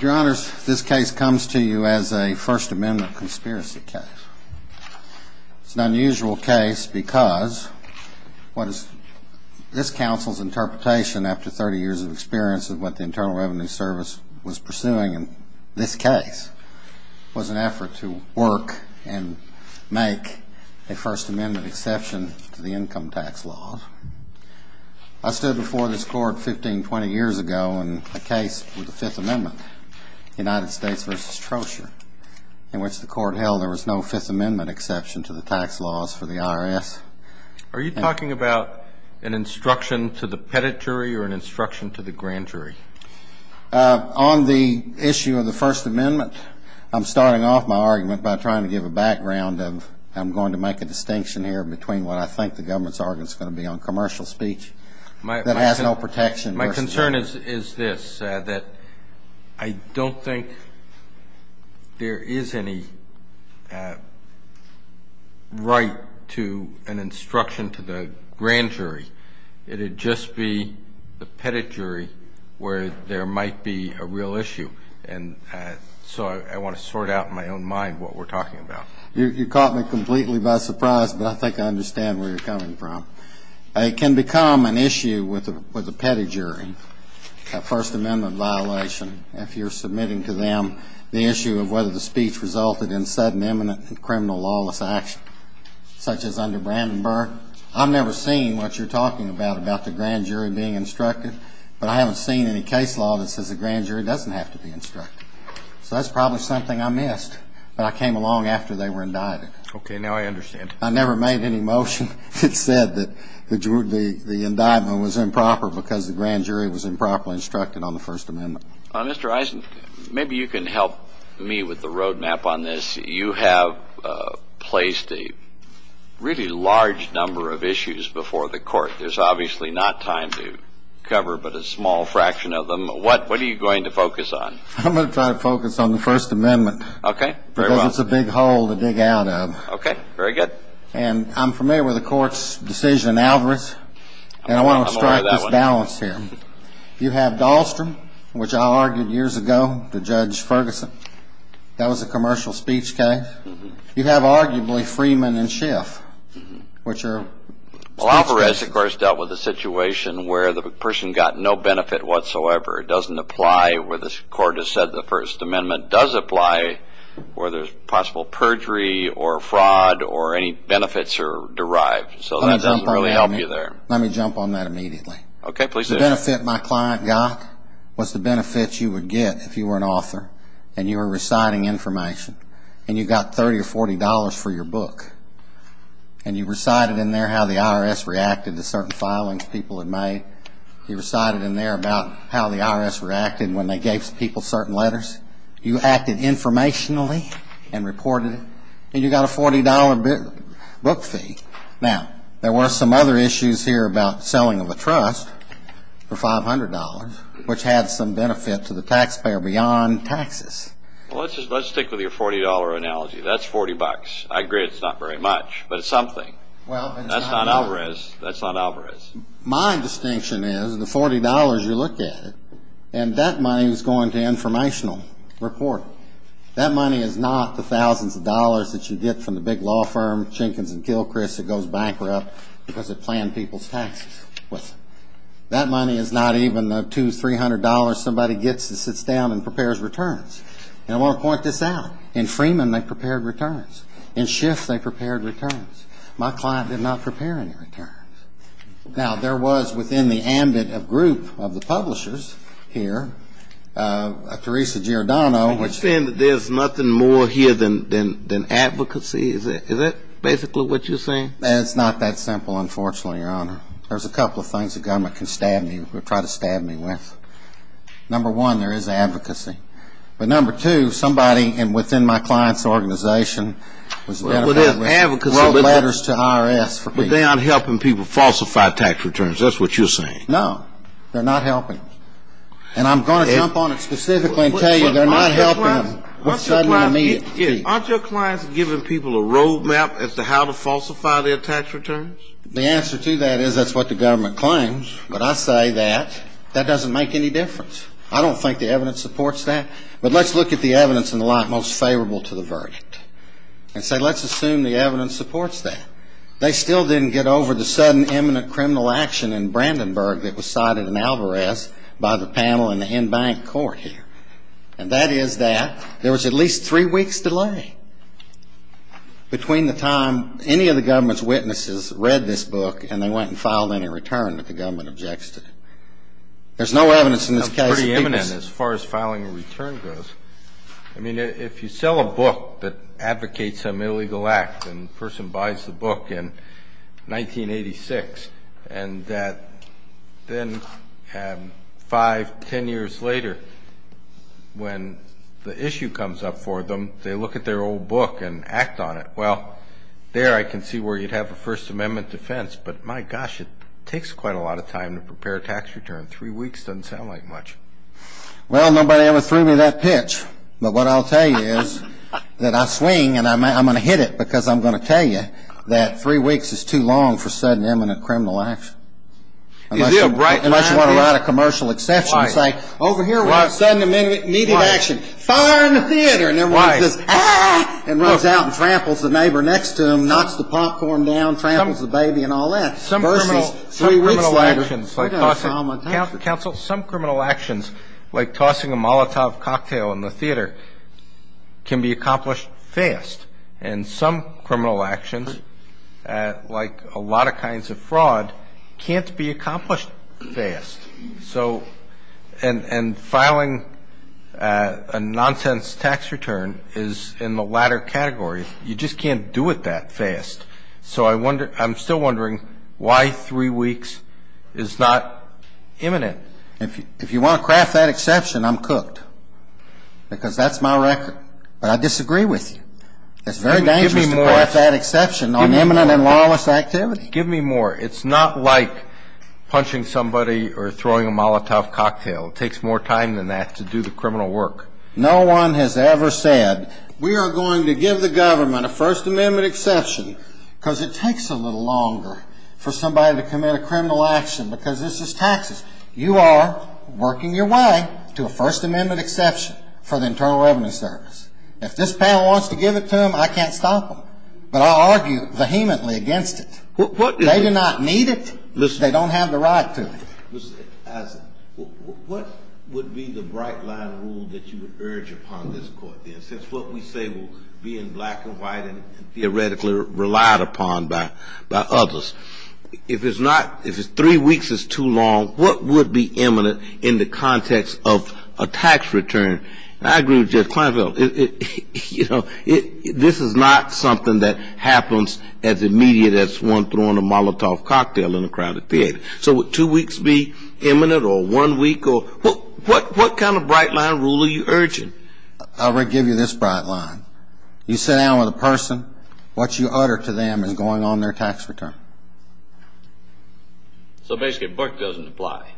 Your Honor, this case comes to you as a First Amendment conspiracy case. It's an unusual case because what is this counsel's interpretation after 30 years of experience of what the Internal Revenue Service was pursuing in this case was an effort to work and make a First Amendment exception to the income tax laws. I stood before this court 15, 20 years ago and the case was Fifth Amendment, United States versus Trojan, in which the court held there was no Fifth Amendment exception to the tax laws for the IRS. Are you talking about an instruction to the peditory or an instruction to the grantory? On the issue of the First Amendment, I'm starting off my argument by trying to give a background of, I'm going to make a distinction here between what I think the government's argument's going to be on commercial speech that has no protection My concern is this, that I don't think there is any right to an instruction to the grantory. It would just be the peditory where there might be a real issue. And so I want to sort out in my own mind what we're talking about. You caught me completely by surprise, but I think I understand where you're coming from. It can become an issue with a pedigree, a First Amendment violation, if you're submitting to them the issue of whether the speech resulted in sudden, imminent criminal lawless action, such as under Brandenburg. I've never seen what you're talking about, about the grand jury being instructed, but I haven't seen any case law that says the grand jury doesn't have to be instructed. So that's probably something I missed, but I came along after they were indicted. Okay, now I understand. I never made any motion that said that the indictment was improper because the grand jury was improperly instructed on the First Amendment. Mr. Eisen, maybe you can help me with the roadmap on this. You have placed a really large number of issues before the court. There's obviously not time to cover, but a small fraction of them. What are you going to focus on? I'm going to try to focus on the First Amendment. Okay. Because it's a big hole to dig out of. Okay, very good. I'm familiar with the court's decision in Alvarez, and I want to start this balance here. I'm aware of that one. You have Dahlstrom, which I argued years ago, the Judge Ferguson. That was a commercial speech case. You have, arguably, Freeman and Schiff, which are... Well, Alvarez, of course, dealt with a situation where the person got no benefit whatsoever. It doesn't apply where the court has said the First Amendment does apply, or there's possible perjury, or fraud, or any benefits are derived. So that doesn't really help you there. Let me jump on that immediately. Okay, please do. The benefit my client got was the benefit you would get if you were an author, and you were reciting information, and you got $30 or $40 for your book, and you recited in there how the IRS reacted to certain filings people had made. You recited in there about how the IRS reacted when they gave people certain letters. You acted informationally and reported it, and you got a $40 book fee. Now, there were some other issues here about selling of a trust for $500, which had some benefit to the taxpayer beyond taxes. Well, let's stick with your $40 analogy. That's 40 bucks. I agree it's not very much, but it's something. That's on Alvarez. That's on Alvarez. My distinction is the $40, you looked at it, and that money is going to informational reporting. That money is not the thousands of dollars that you get from the big law firm, Jenkins and Gilchrist, that goes bankrupt because they plan people's taxes. That money is not even the $200, $300 somebody gets and sits down and prepares returns. And I want to point this out. In Freeman, they prepared returns. In Schiff, they prepared returns. My client did not prepare any returns. Now, there was within the ambit of group of the publishers here, Teresa Giordano. You're saying that there's nothing more here than advocacy? Is that basically what you're saying? It's not that simple, unfortunately, Your Honor. There's a couple of things the government can stab me, or try to stab me with. Number one, there is advocacy. But number two, somebody within my client's organization wrote letters to IRS. But they aren't helping people falsify tax returns. That's what you're saying. No, they're not helping. And I'm going to jump on it specifically and tell you they're not helping them. Aren't your clients giving people a road map as to how to falsify their tax returns? The answer to that is that's what the government claims. But I say that that doesn't make any difference. I don't think the evidence supports that. But let's look at the evidence in the light most favorable to the verdict. And say, let's assume the evidence supports that. They still didn't get over the sudden imminent criminal action in Brandenburg that was cited in Alvarez by the panel in the in-bank court here. And that is that there was at least three weeks delay between the time any of the government's witnesses read this book and they went and filed any return that the government objected. There's no evidence in the case. That's pretty imminent as far as filing a return goes. I mean, if you sell a book that advocates an illegal act, and the person buys the book in 1986, and then five, ten years later when the issue comes up for them, they look at their old book and act on it. Well, there I can see where you'd have a First Amendment defense. But my gosh, it takes quite a lot of time to prepare a tax return. Three weeks doesn't sound like much. Well, nobody ever threw me that pitch. But what I'll tell you is that I swing and I'm going to hit it because I'm going to tell you that three weeks is too long for sudden imminent criminal action. You do, right. Unless you want to write a commercial exception and say, over here was a sudden immediate action. Fire in the theater. And everybody's just, ah! And runs out and tramples the neighbor next to them, knocks the popcorn down, tramples the baby and all that. Some criminal actions like tossing a molotov cocktail in the theater can be accomplished fast. And some criminal actions, like a lot of kinds of fraud, can't be accomplished fast. So, and filing a nonsense tax return is in the latter category. You just can't do it that fast. So I'm still wondering why three weeks is not imminent. If you want to craft that exception, I'm cooked. Because that's my record. But I disagree with you. It's very dangerous to craft that exception on imminent and lawless activity. Give me more. It's not like punching somebody or throwing a molotov cocktail. It takes more time than that to do the criminal work. No one has ever said, we are going to give the government a First Amendment exception because it takes a little longer for somebody to commit a criminal action because this is taxing. You are working your way to a First Amendment exception for the Internal Revenue Service. If this panel wants to give it to them, I can't stop them. But I'll argue vehemently against it. They do not need it. They don't have the right to it. What would be the bright line rule that you would urge upon this court? Since what we say will be in black and white and theoretically relied upon by others. If three weeks is too long, what would be imminent in the context of a tax return? I agree with Judge Kleinfeld. This is not something that happens as immediate as one throwing a molotov cocktail in a crowded theater. So would two weeks be imminent or one week? What kind of bright line rule are you urging? I would give you this bright line. You sit down with a person, what you utter to them is going on their tax return. So basically, a book doesn't apply.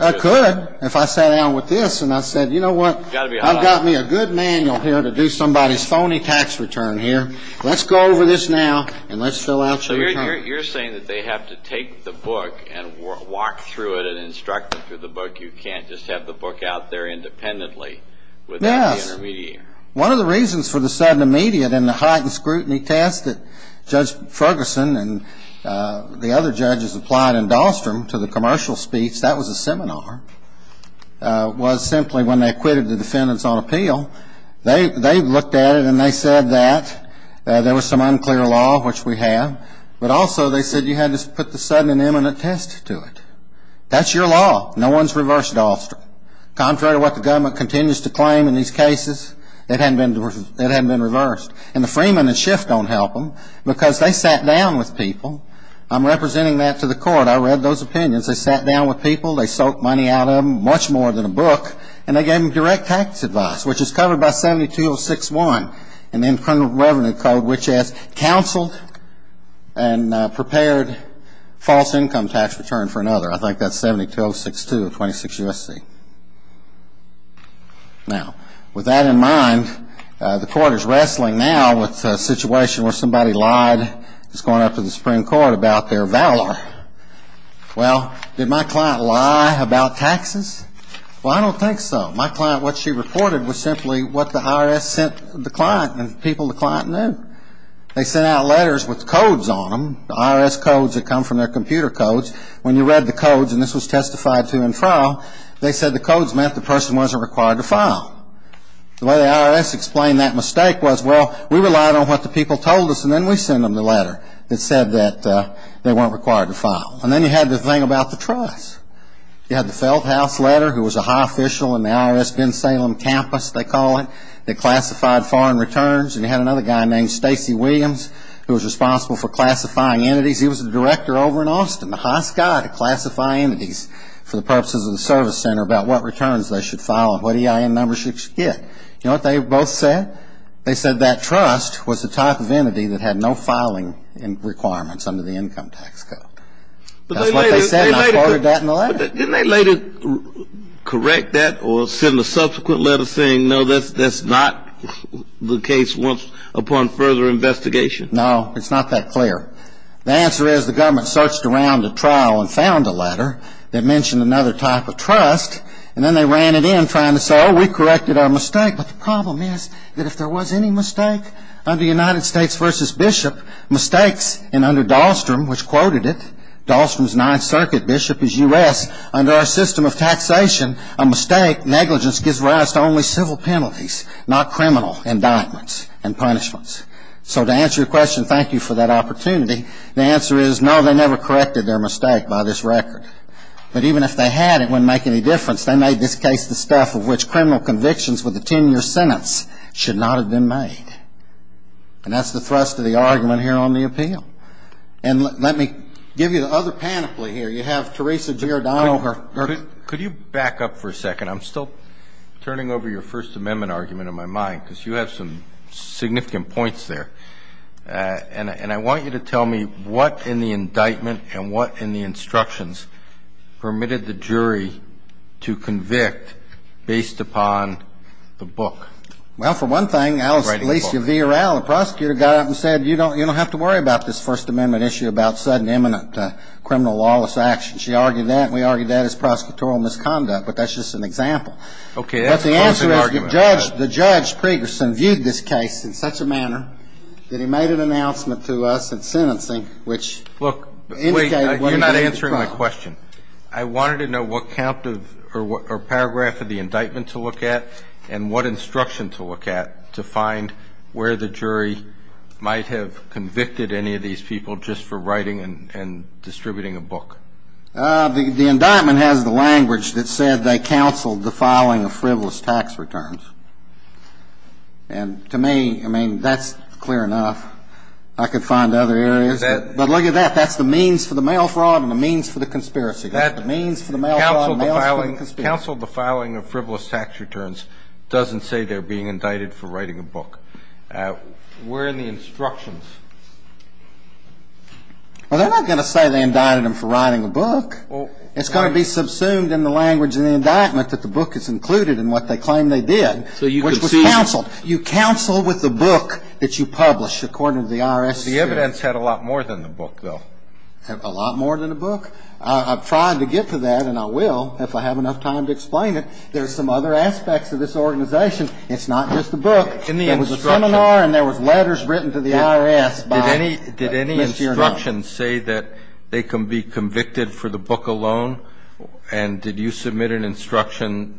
I could if I sat down with this and I said, you know what, I've got me a good manual here to do somebody's phony tax return here. Let's go over this now and let's fill out some terms. So you're saying that they have to take the book and walk through it and instruct them through the book. You can't just have the book out there independently without the intermediary. Yes. One of the reasons for the sudden immediate and the heightened scrutiny test that Judge Ferguson and the other judges applied in Dahlstrom to the commercial speech, that was a seminar, was simply when they acquitted the defendants on appeal, they looked at it and they said that there was some unclear law, which we have, but also they said you had to put the sudden and imminent test to it. That's your law. No one's reversed Dahlstrom. Contrary to what the government continues to claim in these cases, it hadn't been reversed. And the Freeman and Schiff don't help them because they sat down with people. I'm representing that to the court. I read those opinions. They sat down with people. They soaked money out of them, much more than a book, and they gave them direct tax advice, which is covered by 72061 in the Internal Revenue Code, which has counseled and prepared false income tax return for another. I think that's 72062 of 26 U.S.C. Now, with that in mind, the court is wrestling now with a situation where somebody lied. It's going up to the Supreme Court about their valor. Well, did my client lie about taxes? Well, I don't think so. My client, what she reported was simply what the IRS sent the client and the people the client knew. They sent out letters with codes on them, the IRS codes that come from their computer codes. When you read the codes, and this was testified to in file, they said the codes meant the person wasn't required to file. The way the IRS explained that mistake was, we relied on what the people told us, and then we sent them the letter that said that they weren't required to file. And then you had the thing about the trust. You had the Felthouse letter, who was a high official in the IRS Vin Salem campus, they call it, that classified foreign returns. And you had another guy named Stacy Williams, who was responsible for classifying entities. He was the director over in Austin, the high sky to classify entities for the purposes of the service center about what returns they should file and what EIN numbers should get. You know what they both said? They said that trust was the type of entity that had no filing requirements under the income tax code. That's what they said, and I forwarded that in the letter. Didn't they later correct that or send a subsequent letter saying, no, that's not the case upon further investigation? No, it's not that clear. The answer is the government searched around the trial and found the letter that mentioned another type of trust, and then they ran it in trying to say, oh, we corrected our mistake. But the problem is that if there was any mistake under the United States versus Bishop, mistakes, and under Dahlstrom, which quoted it, Dahlstrom's Ninth Circuit, Bishop is U.S., under our system of taxation, a mistake, negligence, gives rise to only civil penalties, not criminal indictments and punishments. So to answer your question, thank you for that opportunity. The answer is no, they never corrected their mistake by this record. But even if they had, it wouldn't make any difference. They made this case the stuff of which convictions with a 10-year sentence should not have been made. And that's the thrust of the argument here on the appeal. And let me give you the other pamphlet here. You have Teresa Girodano. Could you back up for a second? I'm still turning over your First Amendment argument in my mind because you have some significant points there. And I want you to tell me what in the indictment and what in the instructions permitted the jury to convict based upon the book? Well, for one thing, Alice released your VRL. The prosecutor got up and said, you don't have to worry about this First Amendment issue about sudden, imminent criminal lawless action. She argued that. We argued that as prosecutorial misconduct. But that's just an example. OK, that's part of the argument. The judge previously viewed this case in such a manner that he made an announcement to us in sentencing, which indicated what he believed to be true. You're not answering my question. I wanted to know what paragraph of the indictment to look at and what instruction to look at to find where the jury might have convicted any of these people just for writing and distributing a book. The indictment has the language that said they counseled the filing of frivolous tax returns. And to me, I mean, that's clear enough. I could find other areas. But look at that. That's the means for the mail fraud and the means for the conspiracy. That's the means for the mail fraud and the means for the conspiracy. Counseled the filing of frivolous tax returns. Doesn't say they're being indicted for writing a book. Where are the instructions? Well, they're not going to say they indicted them for writing a book. It's going to be subsumed in the language in the indictment that the book is included in what they claim they did. You counsel with the book that you publish, according to the IRS. The evidence had a lot more than the book, though. Had a lot more than the book? I've tried to get to that, and I will if I have enough time to explain it. There's some other aspects of this organization. It's not just the book. It was a seminar, and there were letters written to the IRS. Did any instruction say that they can be convicted for the book alone? And did you submit an instruction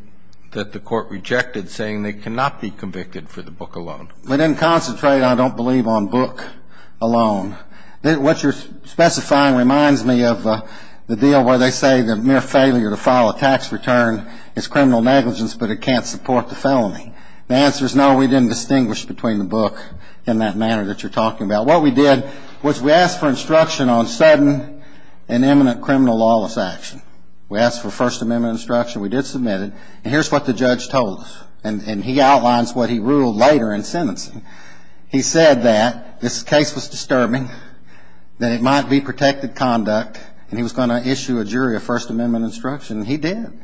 that the court rejected, saying they cannot be convicted for the book alone? We didn't concentrate, I don't believe, on book alone. What you're specifying reminds me of the deal where they say the mere failure to file a tax return is criminal negligence, but it can't support the felony. The answer is no, we didn't distinguish between the book in that manner that you're talking about. What we did was we asked for instruction on sudden and imminent criminal lawless action. We asked for First Amendment instruction. We did submit it. And here's what the judge told us, and he outlines what he ruled later in sentencing. He said that this case was disturbing, that it might be protected conduct, and he was going to issue a jury a First Amendment instruction, and he did.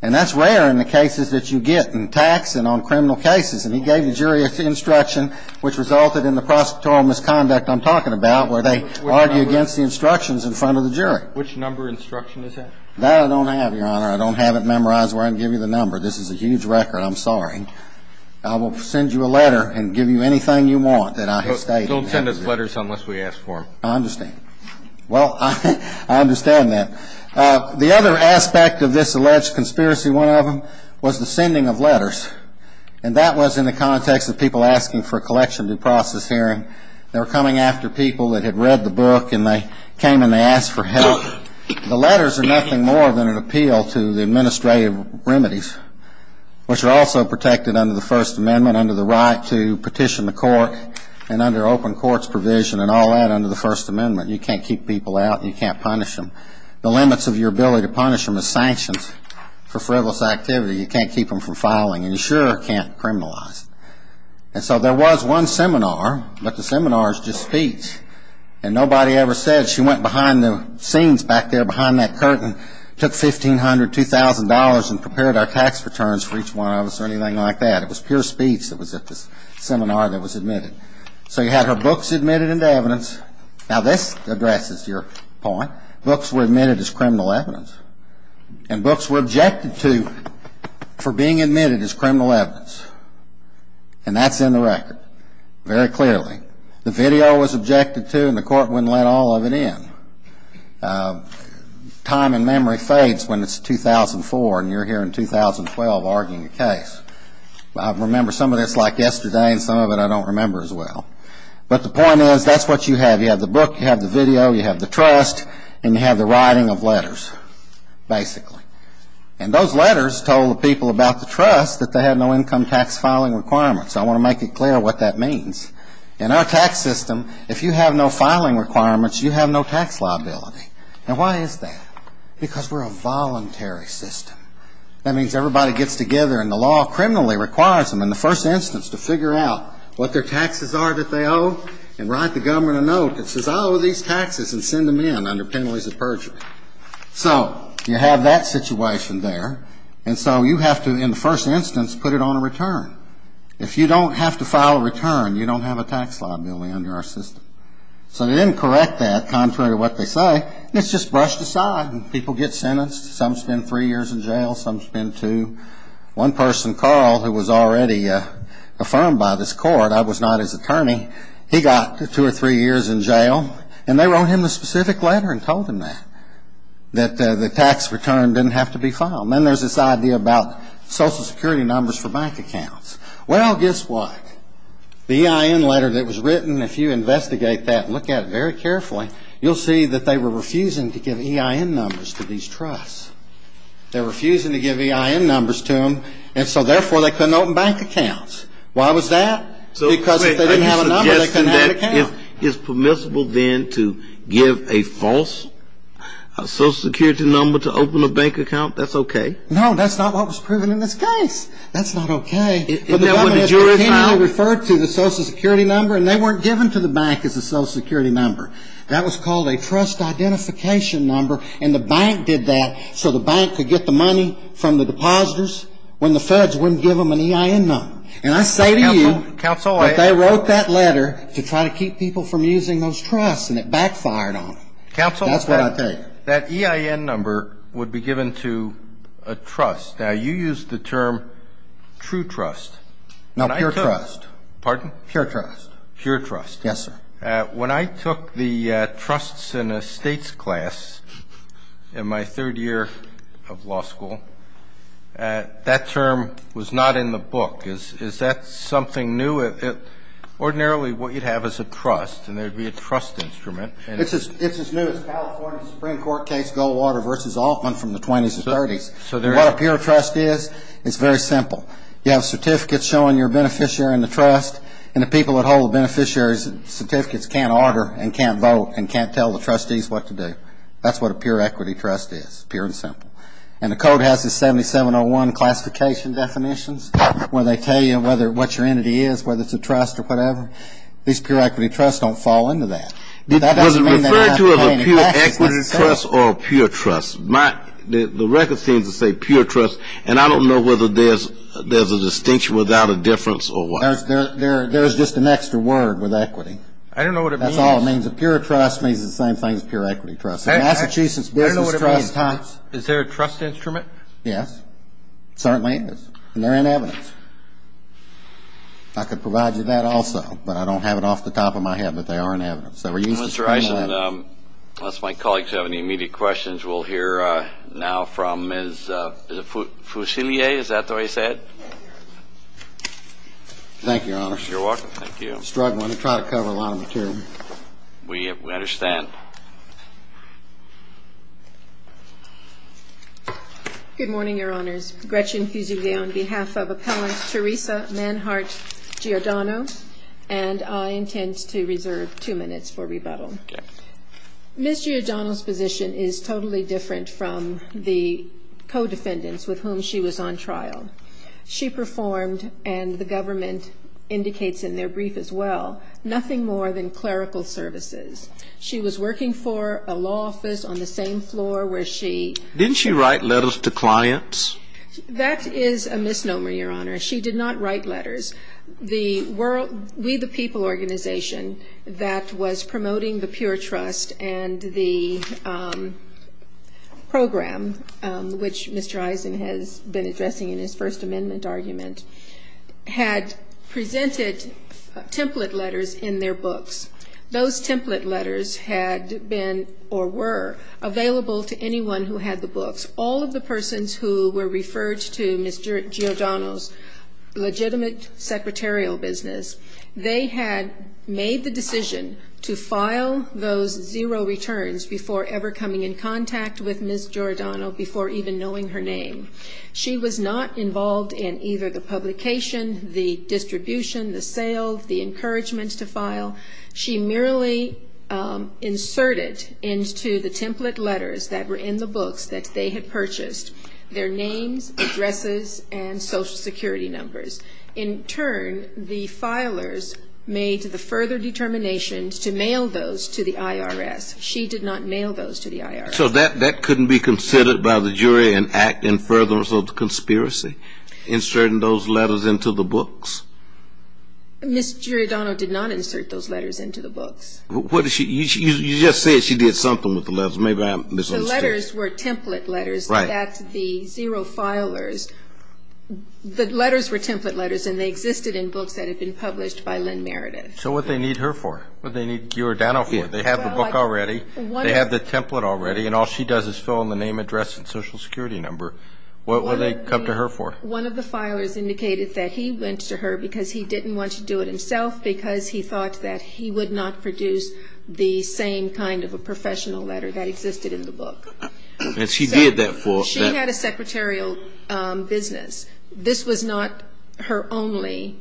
And that's rare in the cases that you get in tax and on criminal cases. And he gave the jury instruction, which resulted in the prosecutorial misconduct I'm talking about, where they argue against the instructions in front of the jury. Which number of instruction is that? That I don't have, Your Honor. I don't have it memorized where I can give you the number. This is a huge record. I'm sorry. I will send you a letter and give you anything you want that I have stated. We'll send us letters unless we ask for them. I understand. Well, I understand that. The other aspect of this alleged conspiracy, one of them, was the sending of letters. And that was in the context of people asking for collections and process hearing. They were coming after people that had read the book, and they came and they asked for help. The letters are nothing more than an appeal to the administrative remedies, which are also protected under the First Amendment, under the right to petition the court, and under open courts provision and all that under the First Amendment. You can't keep people out. You can't punish them. The limits of your ability to punish them is sanctions for frivolous activity. You can't keep them from filing. An insurer can't criminalize them. And so there was one seminar, but the seminar is just speech. And nobody ever said, she went behind the scenes back there, behind that curtain, took $1,500, $2,000, and prepared our tax returns for each one of us or anything like that. It was pure speech that was at the seminar that was admitted. So you had her books admitted into evidence. Now, this addresses your point. Books were admitted as criminal evidence. And books were objected to for being admitted as criminal evidence. And that's in the record very clearly. The video was objected to, and the court wouldn't let all of it in. And time and memory fades when it's 2004, and you're here in 2012 arguing a case. But I remember some of this like yesterday, and some of it I don't remember as well. But the point is, that's what you have. You have the book. You have the video. You have the trust. And you have the writing of letters, basically. And those letters told people about the trust that they had no income tax filing requirements. I want to make it clear what that means. In our tax system, if you have no filing requirements, you have no tax liability. Now, why is that? Because we're a voluntary system. That means everybody gets together, and the law criminally requires them in the first instance to figure out what their taxes are that they owe, and write the government a note that says, I owe these taxes, and send them in under penalties of perjury. So you have that situation there. And so you have to, in the first instance, put it on a return. If you don't have to file a return, you don't have a tax liability under our system. So they didn't correct that, contrary to what they say. It's just brushed aside, and people get sentenced. Some spend three years in jail. Some spend two. One person, Carl, who was already affirmed by this court, I was not his attorney, he got two or three years in jail. And they wrote him a specific letter and told him that, that the tax return didn't have to be filed. Then there's this idea about social security numbers for bank accounts. Well, guess what? The EIN letter that was written, if you investigate that and look at it very carefully, you'll see that they were refusing to give EIN numbers to these trusts. They were refusing to give EIN numbers to them, and so therefore they couldn't open bank accounts. Why was that? Because if they didn't have a number, they couldn't have an account. Is permissible then to give a false social security number to open a bank account? That's okay. No, that's not what was proven in this case. That's not okay. Is that what the jurors found? They referred to the social security number, and they weren't given to the bank as a social security number. That was called a trust identification number, and the bank did that so the bank could get the money from the depositors when the feds wouldn't give them an EIN number. And I say to you that they wrote that letter to try to keep people from using those trusts, and it backfired on them. Counsel, that EIN number would be given to a trust. Now, you used the term true trust. No, pure trust. Pardon? Pure trust. Pure trust. Yes, sir. When I took the trusts in estates class in my third year of law school, that term was not in the book. Is that something new? Ordinarily, what you'd have is a trust, and there'd be a trust instrument. It's as new as California Supreme Court case Goldwater v. Altman from the 20s and 30s. So what a pure trust is, it's very simple. You have certificates showing your beneficiary in the trust, and the people that hold the beneficiaries' certificates can't order and can't vote and can't tell the trustees what to do. That's what a pure equity trust is, pure and simple. And the code has the 7701 classification definitions when they tell you what your entity is, whether it's a trust or whatever. These pure equity trusts don't fall into that. Was it referred to as a pure equity trust or a pure trust? The record seems to say pure trust, and I don't know whether there's a distinction without a difference or what. There's just an extra word with equity. I don't know what it means. That's all it means. A pure trust means the same thing as pure equity trust. In Massachusetts, business trusts... Is there a trust instrument? Yes, certainly is. And they're in evidence. I could provide you that also, but I don't have it off the top of my head, but they are in evidence. Mr. Eisen, unless my colleagues have any immediate questions, we'll hear now from Ms. Fusilier. Is that the way to say it? Thank you, Your Honor. You're welcome. Thank you. Mr. Wright, let me try to cover a lot of the term. We understand. Good morning, Your Honors. Gretchen Fusilier on behalf of Appellant Teresa Manhart Giordano, and I intend to ask you a few questions before rebuttal. Ms. Giordano's position is totally different from the co-defendants with whom she was on trial. She performed, and the government indicates in their brief as well, nothing more than clerical services. She was working for a law office on the same floor where she... Didn't she write letters to clients? That is a misnomer, Your Honor. She did not write letters. The We the People organization that was promoting the Peer Trust and the program, which Mr. Eisen has been addressing in his First Amendment argument, had presented template letters in their books. Those template letters had been, or were, available to anyone who had the books. All of the persons who were referred to Ms. Giordano's legitimate secretarial business, they had made the decision to file those zero returns before ever coming in contact with Ms. Giordano, before even knowing her name. She was not involved in either the publication, the distribution, the sales, the encouragement to file. She merely inserted into the template letters that were in the books that they had purchased their names, addresses, and social security numbers. In turn, the filers made the further determinations to mail those to the IRS. She did not mail those to the IRS. So that couldn't be considered by the jury an act in furtherance of the conspiracy, inserting those letters into the books? Ms. Giordano did not insert those letters into the books. What did she, you just said she did something with the letters, maybe I misunderstood. The letters were template letters, but that's the zero filers. The letters were template letters, and they existed in books that had been published by Lynn Meredith. So what did they need her for? What did they need Giordano for? They have the book already, they have the template already, and all she does is fill in the name, address, and social security number. What would they come to her for? One of the filers indicated that he went to her because he didn't want to do it himself, because he thought that he would not produce the same kind of a professional letter that existed in the book. She had a secretarial business. This was not her only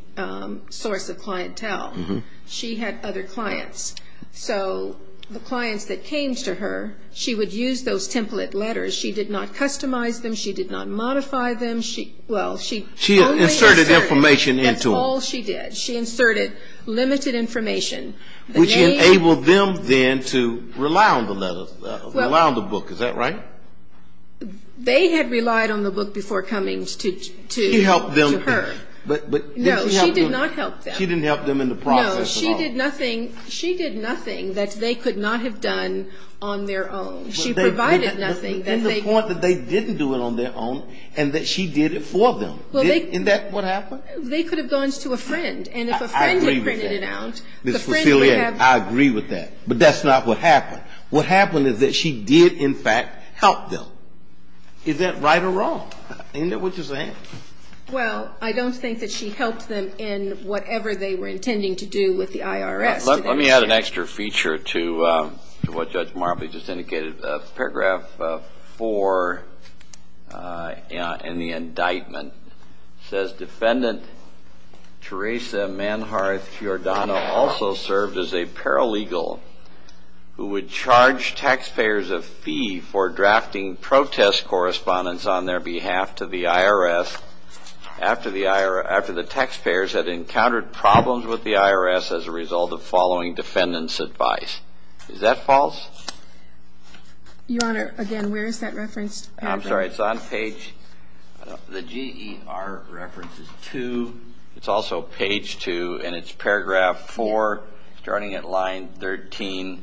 source of clientele. She had other clients. So the clients that came to her, she would use those template letters. She did not customize them. She did not modify them. She inserted information into them. That's all she did. She inserted limited information. Which enabled them then to rely on the book, is that right? They had relied on the book before coming to her. She helped them first. No, she did not help them. She didn't help them in the process at all. No, she did nothing that they could not have done on their own. She provided nothing that they could... And that she did it for them. Isn't that what happened? They could have gone to a friend, and if a friend had printed it out... I agree with that. But that's not what happened. What happened is that she did, in fact, help them. Is that right or wrong? Isn't that what you're saying? Well, I don't think that she helped them in whatever they were intending to do with the IRS. Let me add an extra feature to what Judge Marbley just indicated. Paragraph 4 in the indictment says, Defendant Teresa Manhart-Giordano also served as a paralegal who would charge taxpayers a fee for drafting protest correspondence on their behalf to the IRS after the taxpayers had encountered problems with the IRS as a result of following defendants' advice. Is that false? Your Honor, again, where is that reference? I'm sorry, it's on page... The GER reference is 2. It's also page 2, and it's paragraph 4, starting at line 13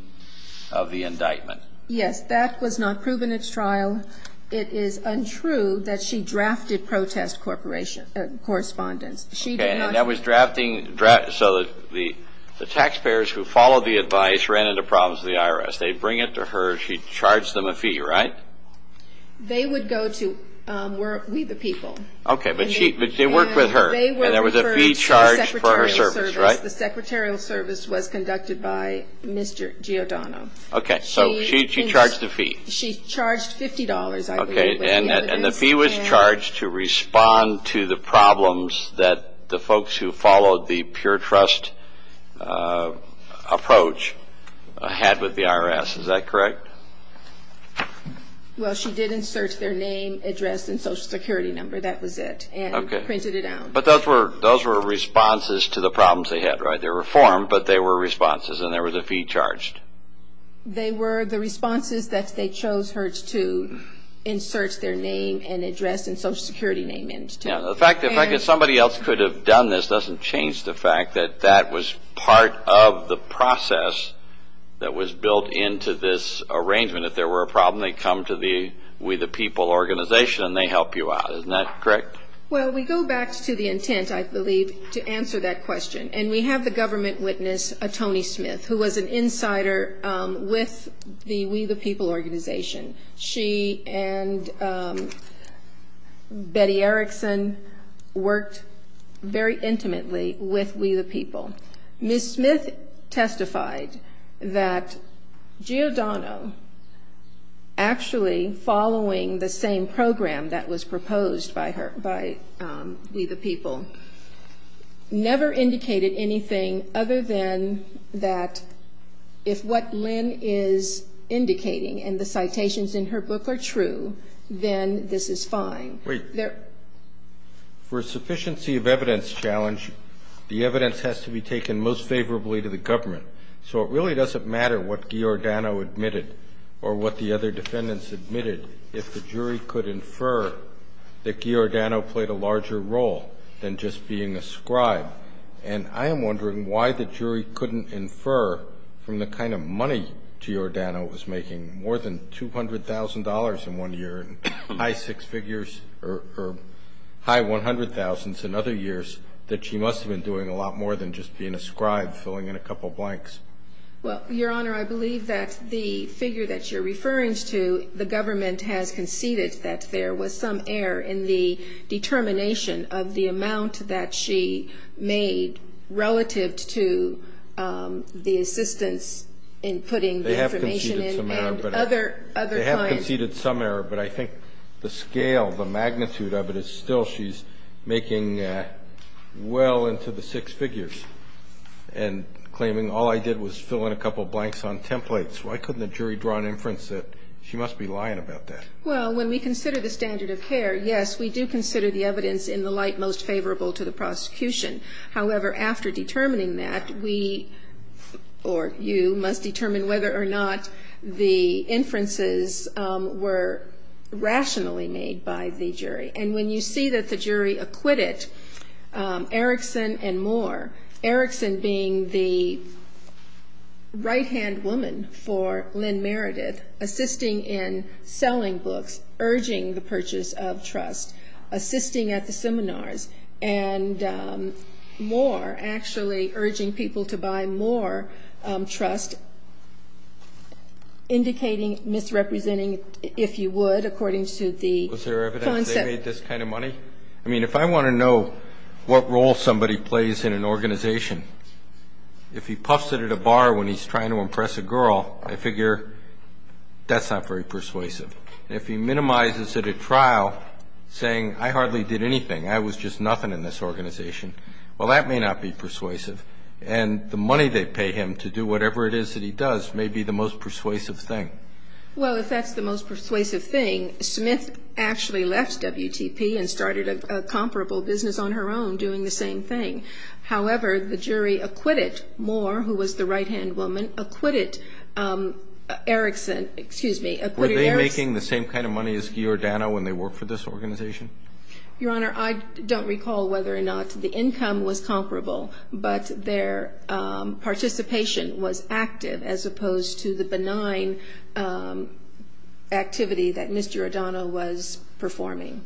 of the indictment. Yes, that was not proven at trial. It is untrue that she drafted protest correspondence. So the taxpayers who followed the advice ran into problems with the IRS. They bring it to her. She charged them a fee, right? They would go to We The People. Okay, but she worked with her, and there was a fee charged for her service, right? The secretarial service was conducted by Mr. Giordano. Okay, so she charged the fee. She charged $50, I believe. Okay, and the fee was charged to respond to the problems that the folks who followed the pure trust approach had with the IRS. Is that correct? Well, she did insert their name, address, and Social Security number. That was it, and printed it out. Okay, but those were responses to the problems they had, right? They were formed, but they were responses, and there was a fee charged. They were the responses that they chose her to insert their name and address and Social Security name into. Yeah, the fact that somebody else could have done this doesn't change the fact that that was part of the process that was built into this arrangement. If there were a problem, they come to the We The People organization, and they help you out. Isn't that correct? Well, we go back to the intent, I believe, to answer that question, and we have the government witness, Toni Smith, who was an insider with the We The People organization. She and Betty Erickson worked very intimately with We The People. Ms. Smith testified that Giordano, actually following the same program that was proposed by We The People, never indicated anything other than that if what Lynn is indicating and the citations in her book are true, then this is fine. Wait. For a sufficiency of evidence challenge, the evidence has to be taken most favorably to the government. So it really doesn't matter what Giordano admitted or what the other defendants admitted if the jury could infer that Giordano played a larger role than just being a scribe. And I am wondering why the jury couldn't infer from the kind of money Giordano was making, more than $200,000 in one year, high six figures or high $100,000 in other years, that she must have been doing a lot more than just being a scribe filling in a couple of blanks. Well, Your Honor, I believe that the figure that you're referring to, the government has conceded that there was some error in the determination of the amount that she made relative to the assistance in putting the information in and other times. They have conceded some error, but I think the scale, the magnitude of it is still, she's making well into the six figures and claiming all I did was fill in a couple of blanks on templates. Why couldn't the jury draw an inference that she must be lying about that? Well, when we consider the standard of care, However, after determining that, we, or you, must determine whether or not the inferences were rationally made by the jury. And when you see that the jury acquitted Erickson and Moore, Erickson being the right-hand woman for Lynn Meredith, assisting in selling books, urging the purchase of trust, assisting at the seminars, and Moore actually urging people to buy more trust, indicating, misrepresenting, if you would, according to the... Was there evidence they made this kind of money? I mean, if I want to know what role somebody plays in an organization, if he puffs it at a bar when he's trying to impress a girl, I figure that's not very persuasive. If he minimizes it at trial, saying, I hardly did anything, I was just nothing in this organization, well, that may not be persuasive. And the money they pay him to do whatever it is that he does may be the most persuasive thing. Well, if that's the most persuasive thing, Smith actually left WTP and started a comparable business on her own, doing the same thing. However, the jury acquitted Moore, who was the right-hand woman, acquitted Erickson, excuse me, Were they making the same kind of money as Giordano when they worked for this organization? Your Honor, I don't recall whether or not the income was comparable, but their participation was active, as opposed to the benign activity that Mr. Giordano was performing.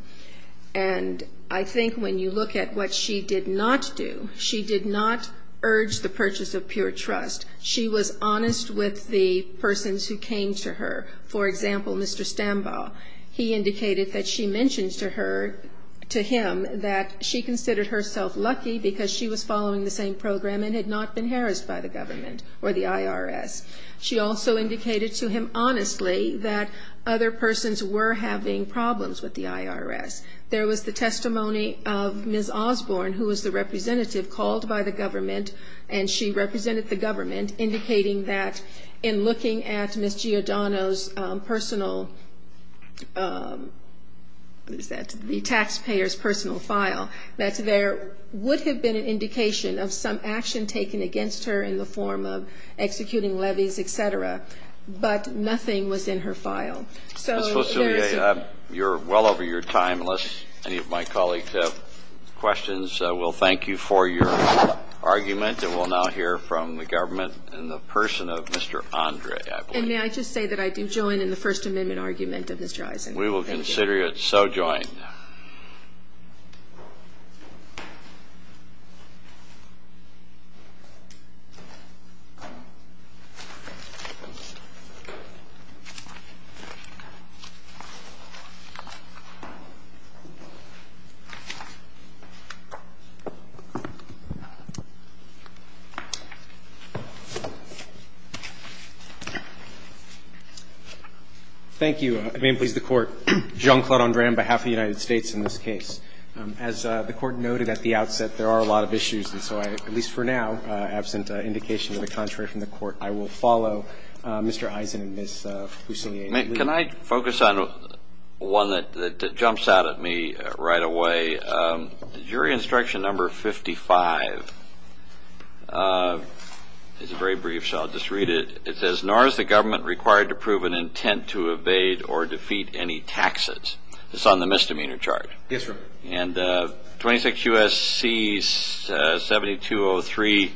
And I think when you look at what she did not do, she did not urge the purchase of pure trust. She was honest with the persons who came to her. For example, Mr. Stambaugh. He indicated that she mentioned to him that she considered herself lucky because she was following the same program and had not been harassed by the government or the IRS. She also indicated to him honestly that other persons were having problems with the IRS. There was the testimony of Ms. Osborne, who was the representative called by the government, and she represented the government, indicating that in looking at Ms. Giordano's personal... What is that? The taxpayer's personal file, that there would have been an indication of some action taken against her in the form of executing levies, et cetera, but nothing was in her file. So... You're well over your time, unless any of my colleagues have questions. We'll thank you for your argument, and we'll now hear from the government in the person of Mr. Andre Adler. And may I just say that I've been joined in the First Amendment argument of Mr. Eisenhower. We will consider it so joined. Thank you. Again, please, the Court. John Claude Andre on behalf of the United States in this case. As the Court noted at the outset, there are a lot of issues, and so I, at least for now, absent indication of the contrary from the Court, I will follow Mr. Eisenhower and Ms. Fusilier. Can I focus on one that jumps out at me right away? Jury Instruction Number 55 is very brief, so I'll just read it. It says, Nor is the government required to prove an intent to evade or defeat any taxes. It's on the misdemeanor charge. Yes, sir. And 26 U.S.C. 7203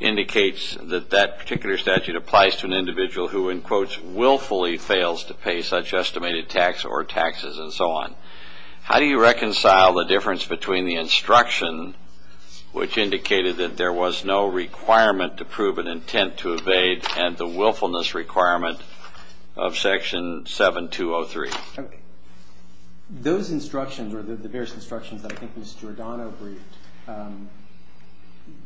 indicates that that particular statute applies to an individual who, in quotes, willfully fails to pay such estimated tax or taxes, and so on. How do you reconcile the difference between the instruction, which indicated that there was no requirement to prove an intent to evade, and the willfulness requirement of Section 7203? Those instructions, or the various instructions, I think Mr. O'Donnell briefed,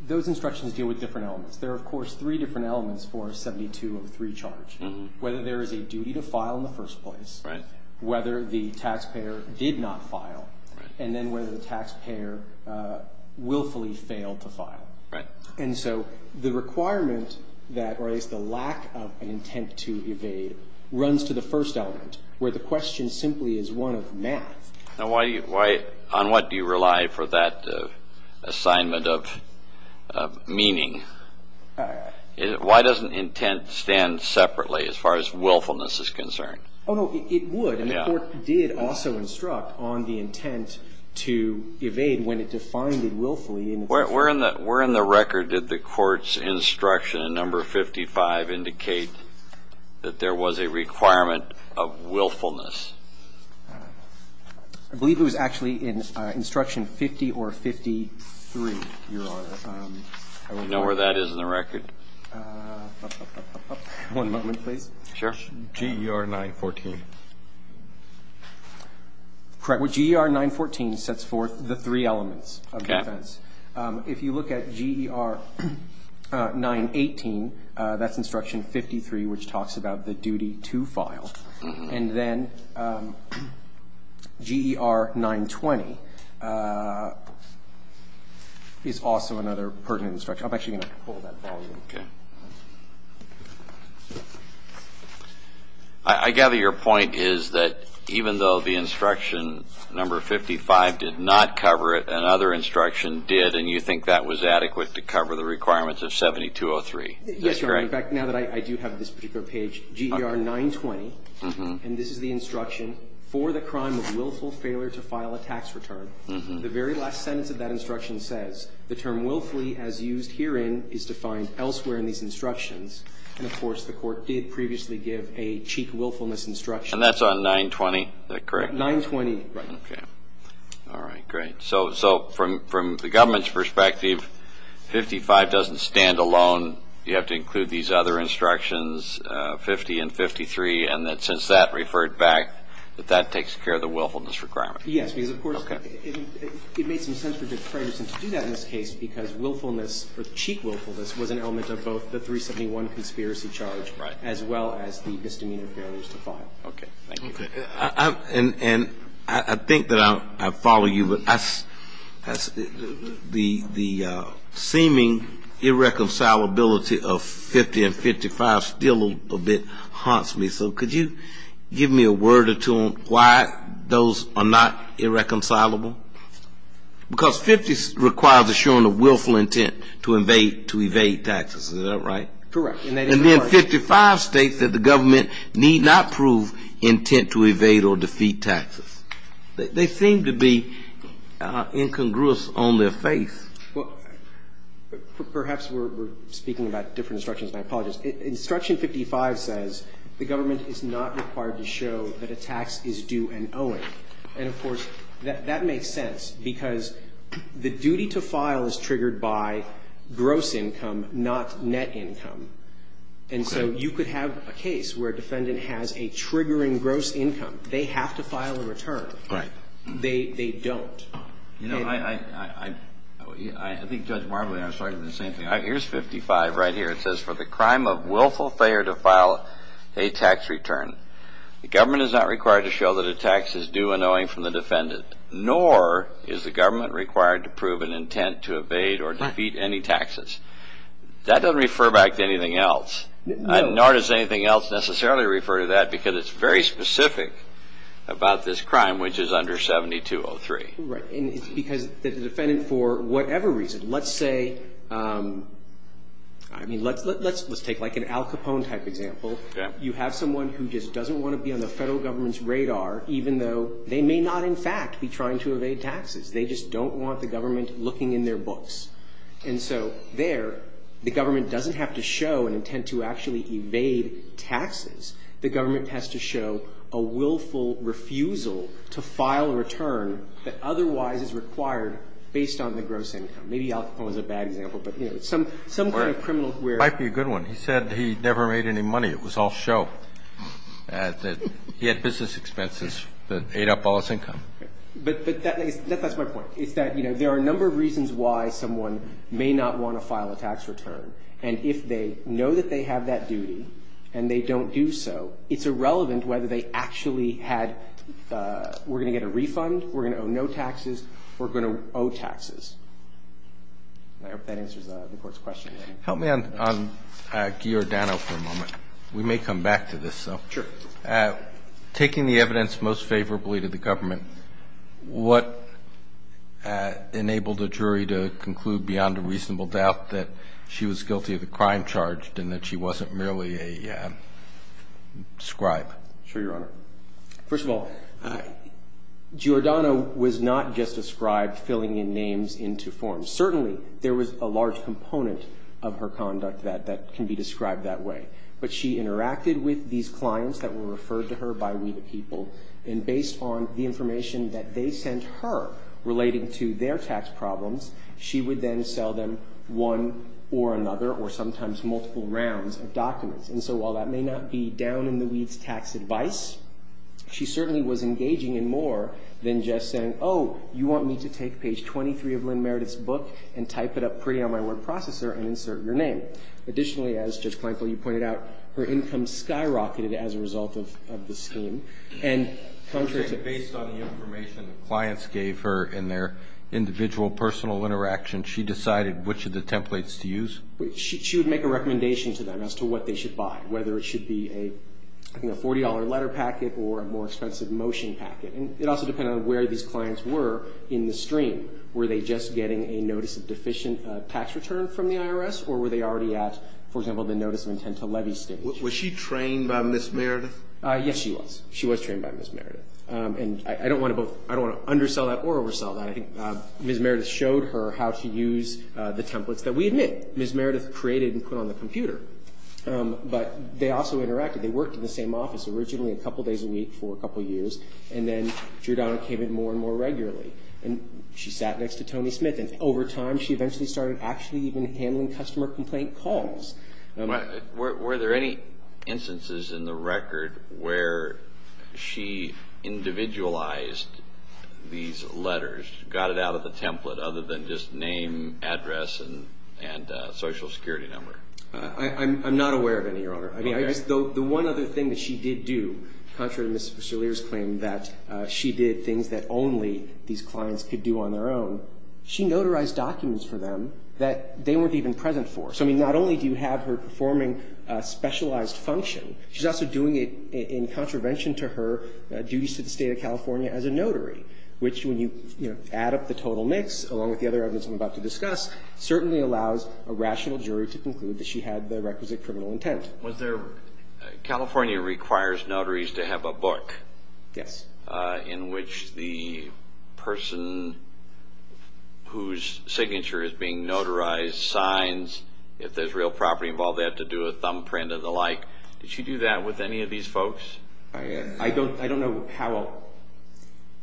those instructions deal with different elements. There are, of course, three different elements for a 7203 charge. Whether there is a duty to file in the first place, whether the taxpayer did not file, and then whether the taxpayer willfully failed to file. Right. And so the requirement that, or at least the lack of an intent to evade, runs to the first element, where the question simply is one of now. On what do you rely for that assignment of meaning? Why doesn't intent stand separately as far as willfulness is concerned? Oh, no, it would. And the court did also instruct on the intent to evade when it defined it willfully. Where in the record did the court's instruction, number 55, indicate that there was a requirement of willfulness? I believe it was actually in instruction 50 or 53, Your Honor. Do you know where that is in the record? One moment, please. Sure. GDR 914. Correct. Well, GDR 914 sets forth the three elements of defense. If you look at GDR 918, that's instruction 53, which talks about the duty to file. And then GDR 920 is also another pertinent instruction. I'm actually going to pull that volume. Okay. I gather your point is that even though the instruction, number 55, did not cover it, another instruction did, and you think that was adequate to cover the requirements of 7203. Yes, Your Honor. In fact, now that I do have this particular page, GDR 920, and this is the instruction, for the crime of willful failure to file a tax return, the very last sentence of that instruction says, the term willfully as used herein is defined elsewhere in these instructions. And of course, the court did previously give a chief willfulness instruction. And that's on 920? Is that correct? 920. Right. All right. Great. So from the government's perspective, 55 doesn't stand alone. You have to include these other instructions, 50 and 53, and that since that referred back, that that takes care of the willfulness requirements. Yes, because of course, it makes some sense for defense to do that in this case, because willfulness, or chief willfulness, was an element of both the 371 conspiracy charge, as well as the misdemeanor failures to file. Okay. And I think that I follow you, but the seeming irreconcilability of 50 and 55 still a bit haunts me. So could you give me a word or two why those are not irreconcilable? Because 50 requires assuring a willful intent to evade taxes. Is that right? Correct. And then 55 states that the government need not prove intent to evade or defeat taxes. They seem to be incongruous on their faith. Perhaps we're speaking about different instructions. I apologize. Instruction 55 says, the government is not required to show that a tax is due and owing. And of course, that makes sense, because the duty to file is triggered by gross income, not net income. And so you could have a case where a defendant has a triggering gross income. They have to file a return. Right. They don't. You know, I think Judge Marbley and I were starting with the same thing. Here's 55 right here. It says, for the crime of willful failure to file a tax return, the government is not required to show that a tax is due and owing from the defendant, nor is the government required to prove an intent to evade or defeat any taxes. That doesn't refer back to anything else. Nor does anything else necessarily refer to that, because it's very specific about this crime, which is under 7203. Right. And it's because the defendant, for whatever reason, let's say, I mean, let's take like an Al Capone type example. You have someone who just doesn't want to be on the federal government's radar, even though they may not, in fact, be trying to evade taxes. They just don't want the government looking in their books. And so there, the government doesn't have to show an intent to actually evade taxes. The government has to show a willful refusal to file a return that otherwise is required based on the gross income. Maybe I'll call it a bad example, but, you know, some kind of criminal where... Might be a good one. He said he never made any money. It was all show. He had business expenses that ate up all his income. But that's my point. It's that, you know, there are a number of reasons why someone may not want to file a tax return. And if they know that they have that duty and they don't do so, it's irrelevant whether they actually had... We're going to get a refund. We're going to owe no taxes. We're going to owe taxes. I hope that answers the court's question. Help me on Giordano for a moment. We may come back to this. Taking the evidence most favorably to the government, what enabled the jury to conclude beyond a reasonable doubt that she was guilty of the crime charged and that she wasn't merely a scribe? Sure, Your Honor. First of all, Giordano was not just a scribe filling in names into forms. Certainly, there was a large component of her conduct that can be described that way. But she interacted with these clients that were referred to her by real people. And based on the information that they sent her relating to their tax problems, she would then sell them one or another or sometimes multiple rounds of documents. And so while that may not be down-in-the-weeds tax advice, she certainly was engaging in more than just saying, oh, you want me to take page 23 of Lynn Meredith's book and type it up pretty on my word processor and insert your name. Additionally, as Judge Clanko, you pointed out, her income skyrocketed as a result of this scheme. And based on the information the clients gave her in their individual personal interaction, she decided which of the templates to use? She would make a recommendation to them as to what they should buy, whether it should be a $40 letter packet or a more expensive motion packet. And it also depended on where these clients were in the stream. Were they just getting a notice of deficient tax return from the IRS or were they already at, for example, the notice of intent to levy stage? Was she trained by Ms. Meredith? Yes, she was. She was trained by Ms. Meredith. And I don't want to undersell that or oversell that. I think Ms. Meredith showed her how to use the templates that we had made. Ms. Meredith created and put on the computer. But they also interacted. They worked in the same office originally a couple of days a week for a couple of years. And then she was allocated more and more regularly. And she sat next to Tony Smith. And over time, she eventually started actually even handling customer complaint calls. Were there any instances in the record where she individualized these letters, got it out of the template other than just name, address, and social security number? I'm not aware of any, Your Honor. I mean, the one other thing that she did do, contrary to Mr. Vassilier's claim, that she did things that only these clients could do on their own, she notarized documents for them that they weren't even present for. So I mean, not only do you have her performing a specialized function, she's also doing it in contravention to her duties to the state of California as a notary, which when you add up the total mix, along with the other evidence I'm about to discuss, certainly allows a rational jury to conclude that she had the requisite criminal intent. California requires notaries to have a book in which the person whose signature is being notarized signs. If there's real property involved, they have to do a thumbprint and the like. Did she do that with any of these folks? I don't know how.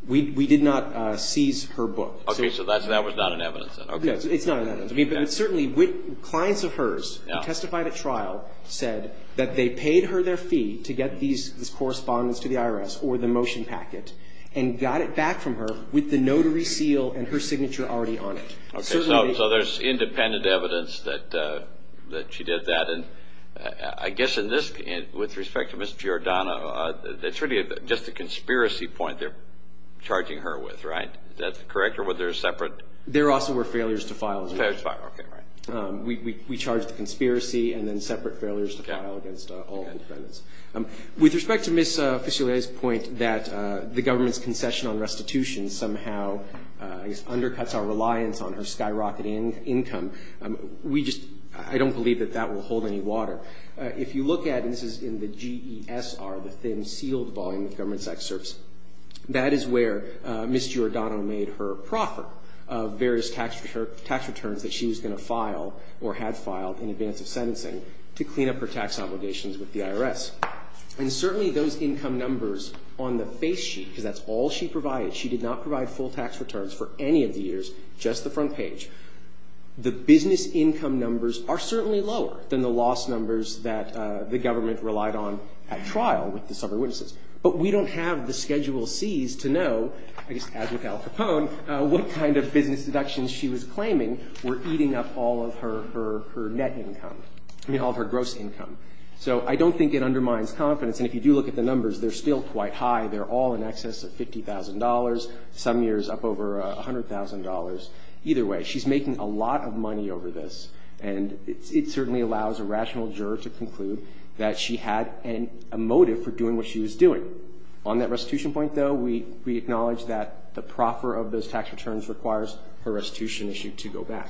We did not seize her book. Okay, so that was not an evidence then. No, it's not an evidence. I mean, certainly clients of hers who testified at trial said that they paid her their fee to get these correspondence to the IRS or the motion packet, and got it back from her with the notary seal and her signature already on it. Okay, so there's independent evidence that she did that. I guess in this case, with respect to Ms. Giordano, that's really just a conspiracy point they're charging her with, right? That's correct? Or were there separate? There also were failures to file. We charged a conspiracy and then separate failures to file against all defendants. With respect to Ms. Fichelet's point that the government's concession on restitution somehow undercuts our reliance on her skyrocketing income, we just, I don't believe that that will hold any water. If you look at, this is in the GESR, the thin sealed volume of government tax service, that is where Ms. Giordano made her proffer of various tax returns that she was going to file or had filed in advance of sentencing to clean up her tax obligations with the IRS. And certainly those income numbers on the face sheet, because that's all she provided, she did not provide full tax returns for any of the years, just the front page. The business income numbers are certainly lower than the lost numbers that the government relied on at trial with the summer witnesses. But we don't have the Schedule Cs to know, I guess, as with Al Capone, what kind of business deductions she was claiming were eating up all of her net income, I mean, all of her gross income. So I don't think it undermines confidence. And if you do look at the numbers, they're still quite high. They're all in excess of $50,000, some years up over $100,000. Either way, she's making a lot of money over this. And it certainly allows a rational juror to conclude that she had a motive for doing what she was doing. On that restitution point, though, we acknowledge that the proffer of those tax returns requires her restitution issue to go back.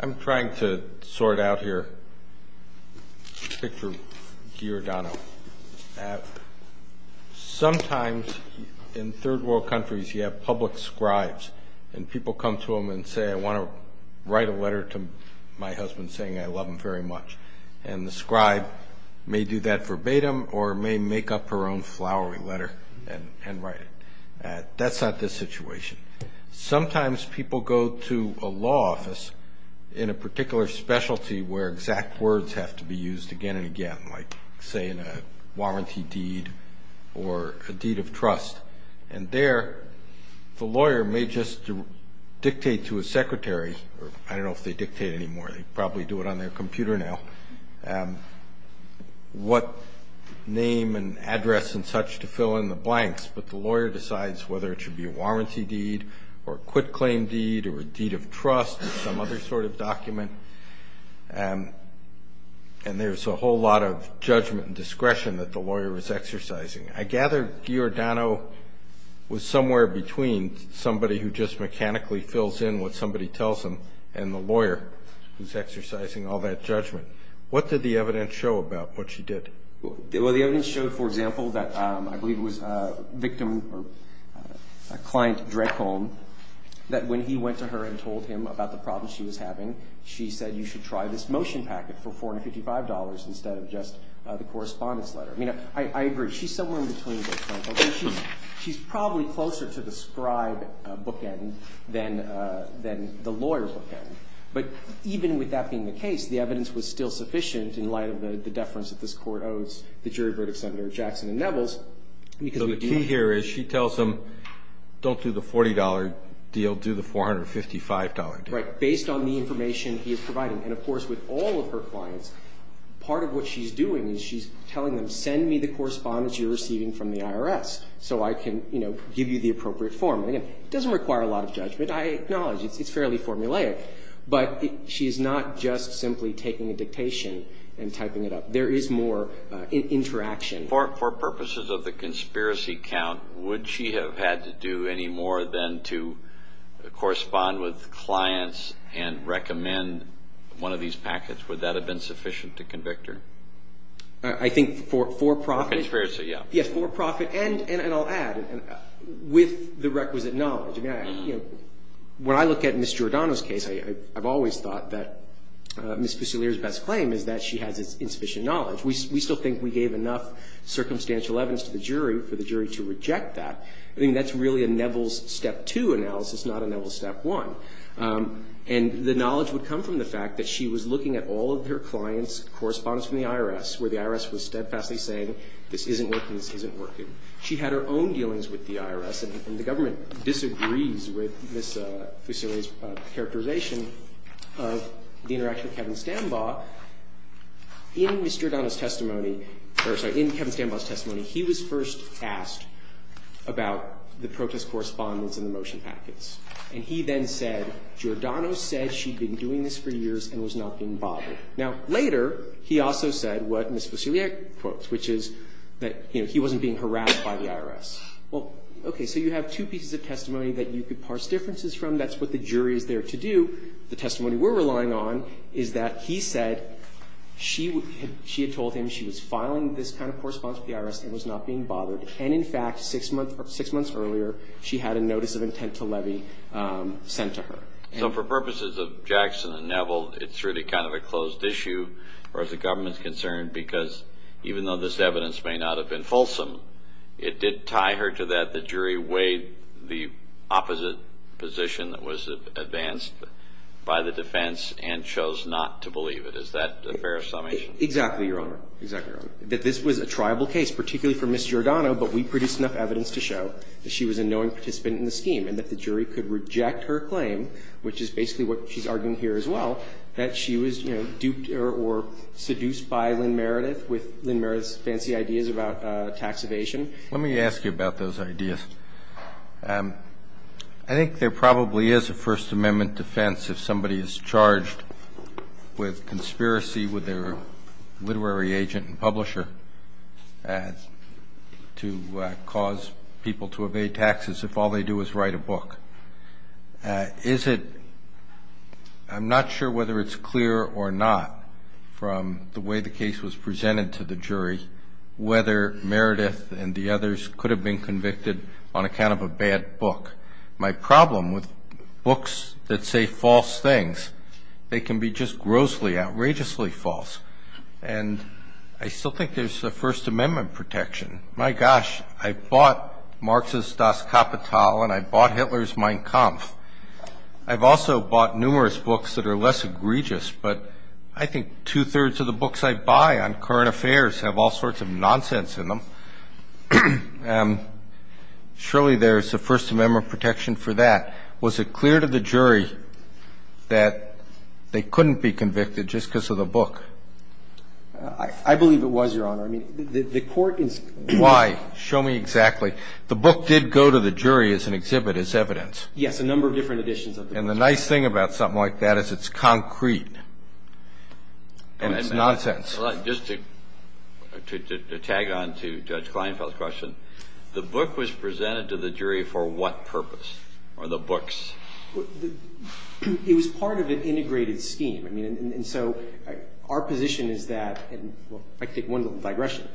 I'm trying to sort out here, pick for Giordano. Sometimes in third world countries, you have public scribes and people come to them and say, I want to write a letter to my husband saying I love him very much. And the scribe may do that verbatim or may make up her own flowery letter and write it. That's not the situation. Sometimes people go to a law office in a particular specialty where exact words have to be used again and again, like say in a warranty deed or a deed of trust. And there the lawyer may just dictate to a secretary, or I don't know if they dictate anymore, they probably do it on their computer now, what name and address and such to fill in the blanks. But the lawyer decides whether it should be a warranty deed or quit claim deed or a deed of trust some other sort of document. And there's a whole lot of judgment and discretion that the lawyer is exercising. I gather Giordano was somewhere between somebody who just mechanically fills in what somebody tells him and the lawyer who's exercising all that judgment. What did the evidence show about what she did? Well, the evidence showed, for example, that I believe it was a victim or a client at a direct home that when he went to her and told him about the problem she was having, she said you should try this motion packet for $455 instead of just the correspondence letter. I mean, I agree. She's somewhere in between. She's probably closer to the scribe bookend than the lawyer's bookend. But even with that being the case, the evidence was still sufficient in light of the deference that this court owes the jury verdicts under Jackson and Nevels. So the key here is she tells him don't do the $40 deal, do the $455 deal. Right. Based on the information he is providing. And of course, with all of her clients, part of what she's doing is she's telling them send me the correspondence you're receiving from the IRS so I can, you know, give you the appropriate form. And it doesn't require a lot of judgment. I acknowledge it's fairly formulaic, but she's not just simply taking a dictation and typing it up. There is more interaction. For purposes of the conspiracy count, would she have had to do any more than to correspond with clients and recommend one of these packets? Would that have been sufficient to convict her? I think for profit. Conspiracy, yeah. Yes, for profit. And I'll add, with the requisite knowledge, when I look at Ms. Giordano's case, I've always thought that Ms. Fusilier's best claim is that she has insufficient knowledge. We still think we gave enough circumstantial evidence to the jury for the jury to reject that. I mean, that's really a Nevels step two analysis, not a Nevels step one. And the knowledge would come from the fact that she was looking at all of her clients' correspondence from the IRS, where the IRS was steadfastly saying, this isn't working, this isn't working. She had her own dealings with the IRS, and the government disagrees with Ms. Fusilier's characterization of the interaction with Kevin Stanbaugh. In Mr. Giordano's testimony, or sorry, in Kevin Stanbaugh's testimony, he was first asked about the protest correspondence and the motion packets. And he then said, Giordano said she'd been doing this for years and was not being bothered. Now later, he also said what Ms. Fusilier quotes, which is that, you know, he wasn't being harassed by the IRS. Well, okay. So you have two pieces of testimony that you could parse differences from. That's what the jury is there to do. The testimony we're relying on is that he said she had told him she was filing this kind of correspondence with the IRS and was not being bothered. And in fact, six months earlier, she had a notice of intent to levy sent to her. So for purposes of Jackson and Nevel, it's really kind of a closed issue as far as the government's concerned, because even though this evidence may not have been fulsome, it did tie her to that. The jury weighed the opposite position that was advanced by the defense and chose not to believe it. Is that a fair summation? Exactly, Your Honor. Exactly, Your Honor. This was a triable case, particularly for Ms. Giordano, but we produced enough evidence to show that she was a knowing participant in the scheme and that the jury could reject her claim, which is basically what she's arguing here as well. She was duped or seduced by Lynn Meredith with Lynn Meredith's fancy ideas about tax evasion. Let me ask you about those ideas. I think there probably is a First Amendment defense if somebody is charged with conspiracy with their literary agent and publisher to cause people to evade taxes if all they do is write a book. I'm not sure whether it's clear or not from the way the case was presented to the jury whether Meredith and the others could have been convicted on account of a bad book. My problem with books that say false things, they can be just grossly, outrageously false. And I still think there's a First Amendment protection. My gosh, I bought Marxist Das Kapital and I bought Hitler's Mein Kampf. I've also bought numerous books that are less egregious, but I think two-thirds of the books I buy on current affairs have all sorts of nonsense in them. And surely there's a First Amendment protection for that. Was it clear to the jury that they couldn't be convicted just because of the book? I believe it was, Your Honor. Why? Show me exactly. The book did go to the jury as an exhibit, as evidence. Yes, a number of different editions of the book. And the nice thing about something like that is it's concrete and it's nonsense. Well, just to tag on to Judge Kleinfeld's question, the book was presented to the jury for what purpose, or the books? It was part of an integrated scheme. I mean, and so our position is that, and I take one of them digressionally,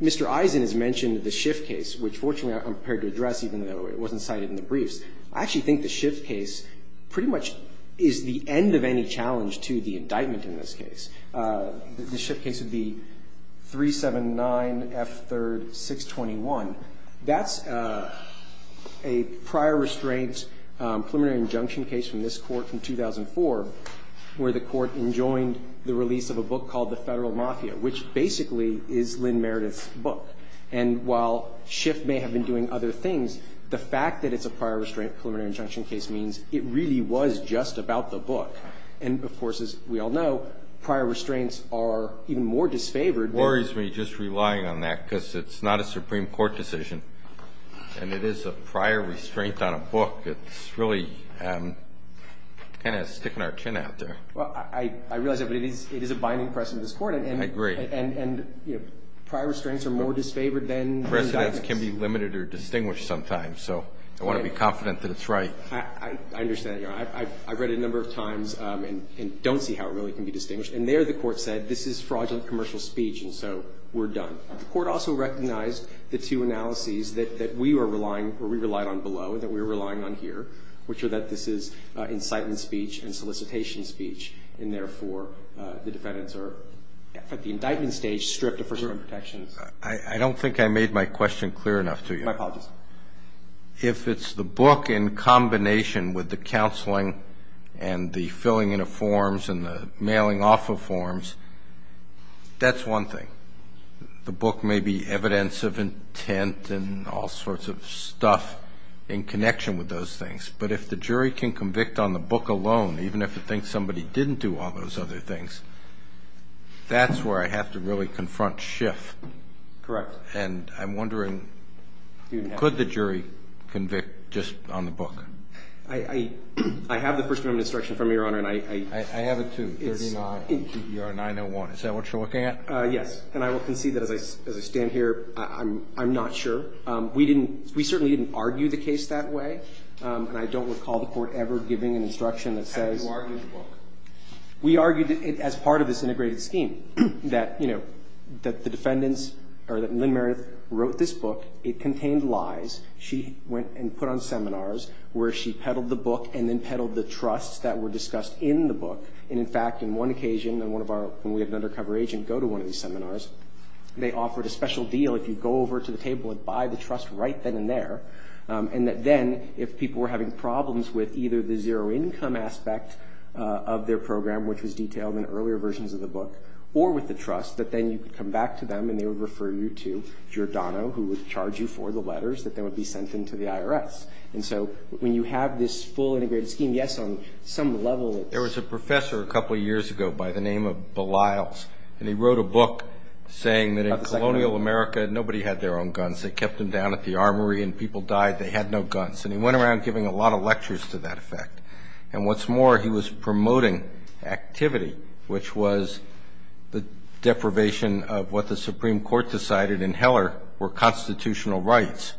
Mr. Eisen has mentioned the Schiff case, which fortunately I'm prepared to address even though it wasn't cited in the briefs. I actually think the Schiff case pretty much is the end of any challenge to the indictment in this case. The Schiff case would be 379F3-621. That's a prior restraint preliminary injunction case from this court from 2004, where the court enjoined the release of a book called The Federal Mafia, which basically is Lynn Meredith's book. And while Schiff may have been doing other things, the fact that it's a prior restraint preliminary injunction case means it really was just about the book. And of course, as we all know, prior restraints are even more disfavored. It worries me just relying on that because it's not a Supreme Court decision and it is a prior restraint on a book that's really kind of sticking our chin out there. Well, I realize that, but it is a binding precedent of this court. I agree. And prior restraints are more disfavored than... The precedent can be limited or distinguished sometimes. So I want to be confident that it's right. I understand. You know, I've read it a number of times and don't see how it really can be distinguished. And there the court said, this is fraudulent commercial speech, and so we're done. The court also recognized the two analyses that we were relying or we relied on below and that we were relying on here, which are that this is incitement speech and solicitation speech, and therefore the defendants are... The indictment stage stripped of presumption of protection. I don't think I made my question clear enough to you. My apologies. If it's the book in combination with the counseling and the filling in of forms and the mailing off of forms, that's one thing. The book may be evidence of intent and all sorts of stuff in connection with those things. But if the jury can convict on the book alone, even if it thinks somebody didn't do all those other things, that's where I have to really confront Schiff. Correct. And I'm wondering, could the jury convict just on the book? I have the personal instruction from your Honor, and I... I have it too, 39 EBR 901. Is that what you're looking at? Yes. And I will concede that as I stand here, I'm not sure. We certainly didn't argue the case that way. And I don't recall the court ever giving an instruction that says... How did you argue the book? We argued it as part of this integrated scheme, that, you know, that the defendants, or that Lynn Meredith wrote this book. It contained lies. She went and put on seminars where she peddled the book and then peddled the trusts that were discussed in the book. And in fact, in one occasion, in one of our... When we have an undercover agent go to one of these seminars, they offered a special deal. If you go over to the table and buy the trust right then and there. And that then, if people were having problems with either the zero income aspect of their program, which was detailed in earlier versions of the book, or with the trust, that then you could come back to them and they would refer you to Giordano, who would charge you for the letters that they would be sending to the IRS. And so when you have this full integrated scheme, yes, on some level... There was a professor a couple of years ago by the name of Belisles. And he wrote a book saying that in colonial America, nobody had their own guns. They kept them down at the armory and people died. They had no guns. And he went around giving a lot of lectures to that effect. And what's more, he was promoting activity, which was the deprivation of what the Supreme Court decided in Heller were constitutional rights.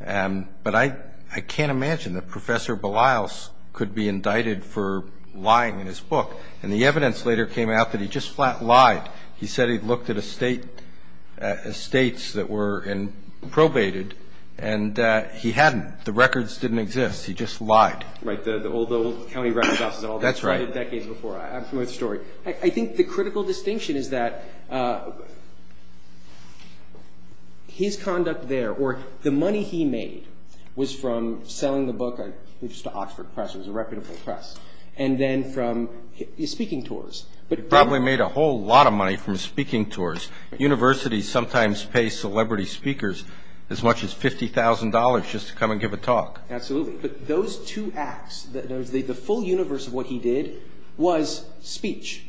But I can't imagine that Professor Belisles could be indicted for lying in his book. And the evidence later came out that he just flat lied. He said he'd looked at estates that were probated and he hadn't. The records didn't exist. He just lied. Right, the old county record office and all that. That's right. Decades before, absolute story. I think the critical distinction is that his conduct there or the money he made was from selling the book, I think it was the Oxford Press, it was a record from the press. And then from his speaking tours. He probably made a whole lot of money from his speaking tours. Universities sometimes pay celebrity speakers as much as $50,000 just to come and give a talk. Absolutely. Those two acts, the full universe of what he did was speech.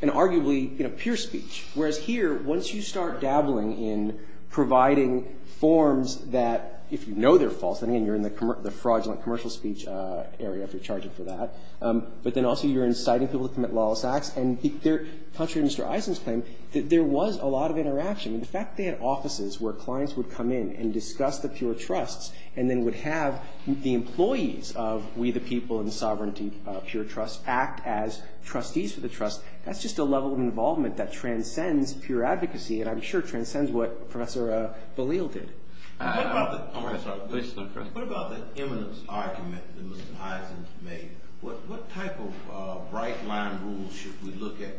And arguably, pure speech. Whereas here, once you start dabbling in providing forms that, if you know they're false, and again, you're in the fraudulent commercial speech area if you're charging for that. But then also you're inciting people to commit lawless acts. And to touch on Mr. Eisenstein, there was a lot of interaction. In fact, they had offices where clients would come in and discuss the pure trusts and then would have the employees of We the People and Sovereignty, pure trusts, act as trustees of the trust. That's just a level of involvement that transcends pure advocacy and I'm sure transcends what Professor Ballil did. I have a question, Chris. What about the eminence argument that Mr. Eisenstein made? What type of right line rules should we look at?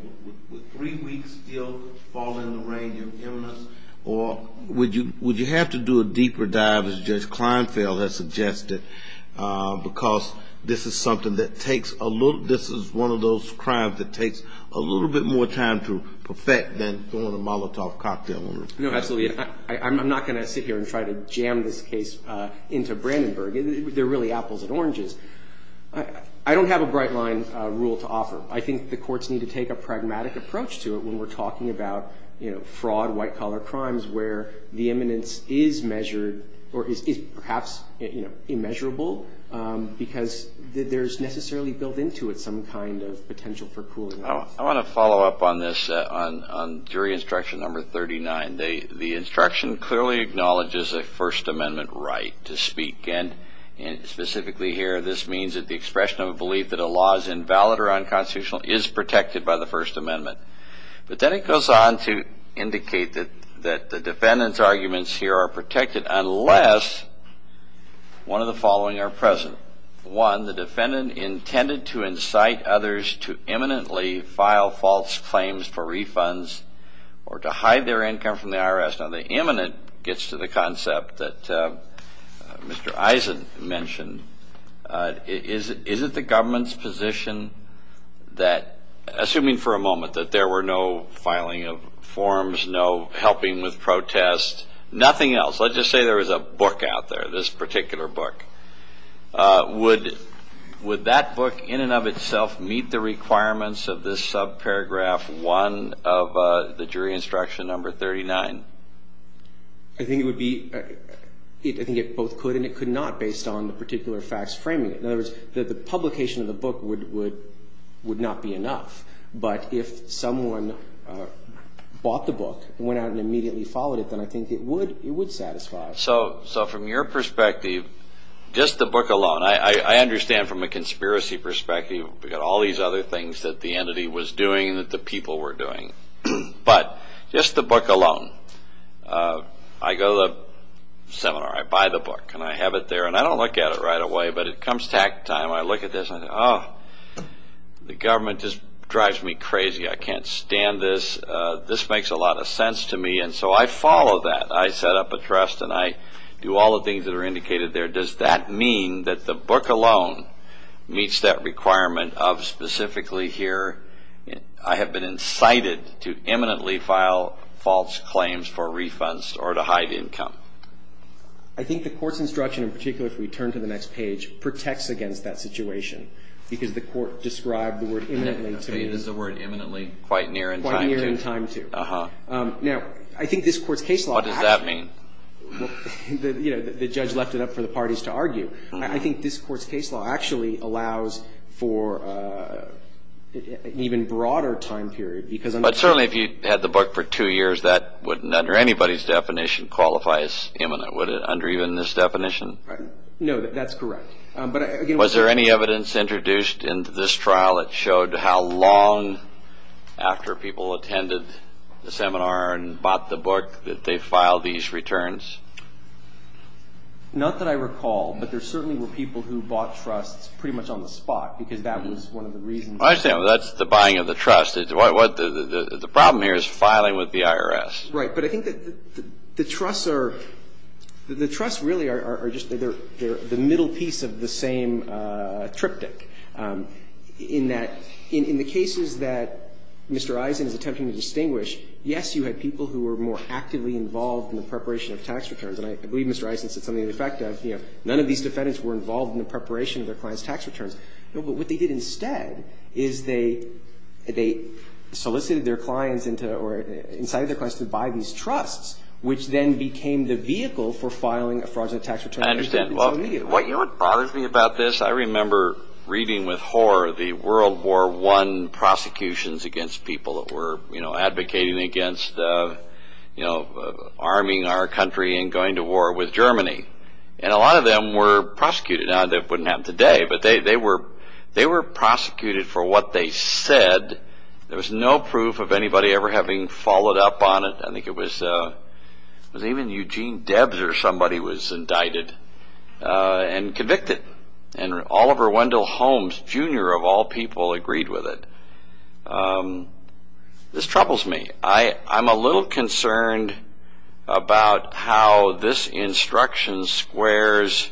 Would three weeks still fall in the range of eminence? Or would you have to do a deeper dive as Judge Kleinfeld has suggested? Because this is something that takes a little, this is one of those crimes that takes a little bit more time to perfect than filling a Molotov cocktail. No, absolutely. I'm not going to sit here and try to jam this case into Brandenburg. They're really apples and oranges. I don't have a bright line rule to offer. I think the courts need to take a pragmatic approach to it when we're talking about, you know, fraud, white collar crimes where the eminence is measured or is perhaps immeasurable because there's necessarily built into it some kind of potential for cooling off. I want to follow up on this on jury instruction number 39. The instruction clearly acknowledges a First Amendment right to speak. And specifically here, this means that the expression of a belief that a law is invalid or unconstitutional is protected by the First Amendment. But then it goes on to indicate that the defendant's arguments here are protected unless one of the following are present. One, the defendant intended to incite others to imminently file false claims for refunds or to hide their income from the IRS. Now, the imminent gets to the concept that Mr. Eisen mentioned. Is it the government's position that, assuming for a moment, that there were no filing of forms, no helping with protests, nothing else, let's just say there was a book out there, this particular book, would that book in and of itself meet the requirements of this subparagraph 1 of the jury instruction number 39? I think it would be, I think it both could and it could not based on the particular facts framing it. In other words, the publication of the book would not be enough. But if someone bought the book and went out and immediately followed it, I think it would satisfy. So from your perspective, just the book alone, I understand from a conspiracy perspective we've got all these other things that the entity was doing and that the people were doing. But just the book alone, I go to the seminar, I buy the book and I have it there and I don't look at it right away, but it comes to hack time. I look at this and I think, oh, the government just drives me crazy. I can't stand this. This makes a lot of sense to me. So I follow that. I set up a trust and I do all the things that are indicated there. Does that mean that the book alone meets that requirement of specifically here, I have been incited to imminently file false claims for refunds or to hide income? I think the court's instruction, in particular, if we turn to the next page, protects against that situation because the court described the word imminently to me. It is the word imminently quite near in time too. Now, I think this court's case law... What does that mean? The judge left it up for the parties to argue. I think this court's case law actually allows for an even broader time period... But certainly if you had the book for two years, that wouldn't, under anybody's definition, qualify as imminent, would it under even this definition? No, that's correct. Was there any evidence introduced in this trial that showed how long after people attended the seminar and bought the book that they filed these returns? Not that I recall, but there certainly were people who bought trusts pretty much on the spot because that was one of the reasons. I see. That's the buying of the trust. The problem here is filing with the IRS. Right, but I think that the trusts really are just the middle piece of the same triptych in that in the cases that Mr. Eisen's attempt to distinguish, yes, you had people who were more actively involved in the preparation of tax returns, and I believe Mr. Eisen said something to the effect that none of these defendants were involved in the preparation of their client's tax returns. But what they did instead is they solicited their clients into or incited their clients to buy these trusts, which then became the vehicle for filing a fraudulent tax return. I understand. What you're arguing about this, I remember reading with horror the World War I prosecutions against people that were advocating against arming our country and going to war with Germany. And a lot of them were prosecuted. Now, that wouldn't happen today, but they were prosecuted for what they said. There was no proof of anybody ever having followed up on it. I think it was even Eugene Debs or somebody was indicted and convicted. And Oliver Wendell Holmes, Jr., of all people, agreed with it. This troubles me. I'm a little concerned about how this instruction squares.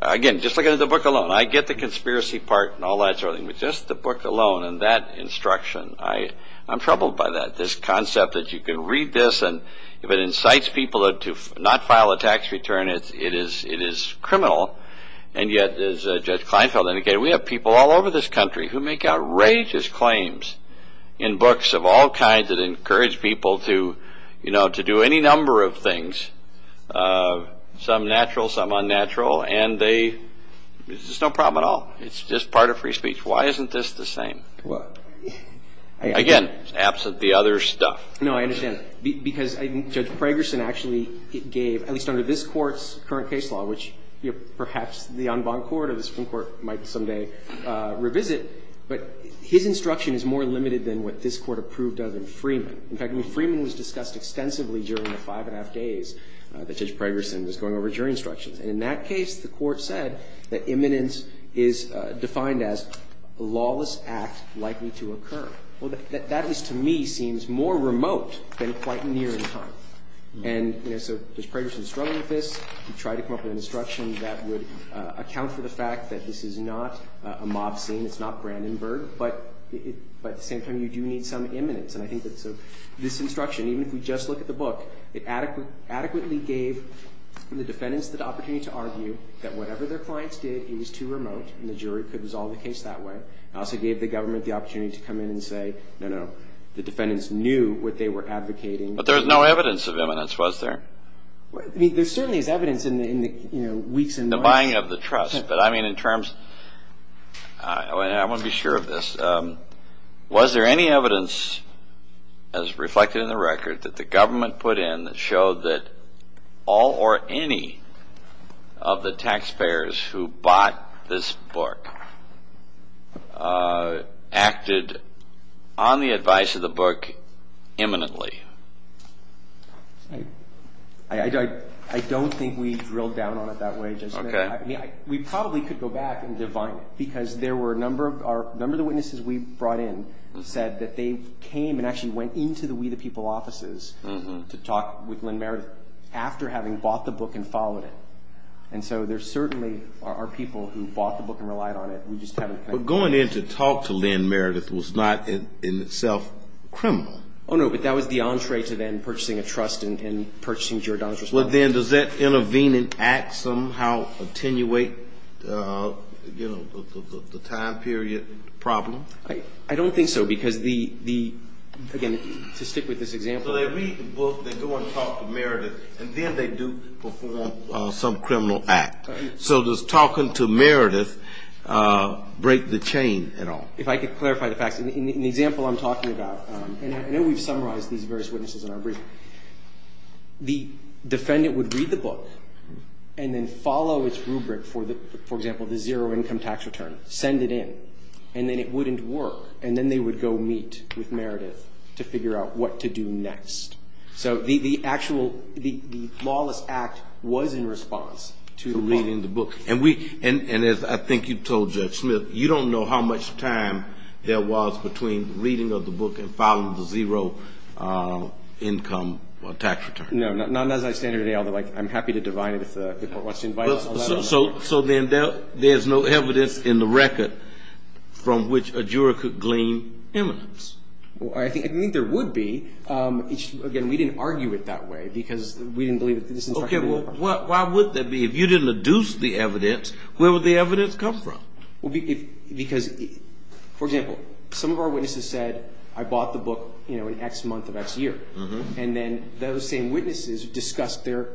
Again, just look at the book alone. I get the conspiracy part and all that sort of thing, but just the book alone and that instruction, I'm troubled by that. This concept that you can read this and if it incites people to not file a tax return, it is criminal. And yet, as Judge Kleinfeld indicated, we have people all over this country who make outrageous claims in books of all kinds that encourage people to do any number of things, some natural, some unnatural, and this is no problem at all. It's just part of free speech. Why isn't this the same? Again, it's absent the other stuff. No, I understand it. Because Judge Fragerson actually gave, at least under this court's current case law, which perhaps the en banc court might someday revisit, but his instruction is more limited than what this court approved of in Freeman. In fact, Freeman was discussed extensively during the five and a half days that Judge Fragerson was going over jury instruction. And in that case, the court said that imminence is defined as a lawless act likely to occur. Well, that is, to me, seems more remote than quite near in time. And, you know, so Judge Fragerson struggled with this. He tried to come up with an instruction that would account for the fact that this is not a mobsling. It's not Brandenburg. But at the same time, you do need some imminence. And I think that this instruction, even if you just look at the book, it adequately gave the defendants the opportunity to argue that whatever their clients did was too remote, and the jury could resolve the case that way. It also gave the government the opportunity to come in and say, no, no, the defendants knew what they were advocating. But there was no evidence of imminence, was there? I mean, there certainly is evidence in the weeks and months. The buying of the trust. But I mean, in terms... I want to be sure of this. Was there any evidence, as reflected in the record, that the government put in that showed that all or any of the taxpayers who bought this book acted on the advice of the book imminently? I don't think we drilled down on it that way. Okay. We probably could go back and divide, because there were a number of our... A number of the witnesses we brought in said that they came and actually went into the We the People offices to talk with Lynn Meredith after having bought the book and followed it. And so there certainly are people who bought the book and relied on it. We just haven't... But going in to talk to Lynn Meredith was not in itself criminal. Oh, no, but that was the opposite. It was an entree to then purchasing a trust and purchasing gerodontics. Well, then does that intervening act somehow attenuate the time period problem? I don't think so, because the... Again, to stick with this example... So they read the book, they go and talk to Meredith, and then they do fulfill some criminal act. So does talking to Meredith break the chain at all? If I could clarify the fact... In the example I'm talking about, and I know we've summarized these various witnesses in our briefing, the defendant would read the book and then follow its rubric, for example, the zero income tax return, send it in, and then it wouldn't work. And then they would go meet with Meredith to figure out what to do next. So the actual, the lawless act was in response to reading the book. And as I think you've told Judge Smith, you don't know how much time there was between reading of the book and following the zero income tax return. No, not as I stated earlier. I'm happy to divide it. So there's no evidence in the record from which a juror could glean evidence? I think there would be. Again, we didn't argue it that way, because we didn't believe... Okay, well, why would that be? If you didn't deduce the evidence, where would the evidence come from? Well, because, for example, some of our witnesses said, I bought the book, you know, in X month of X year. And then those same witnesses discussed their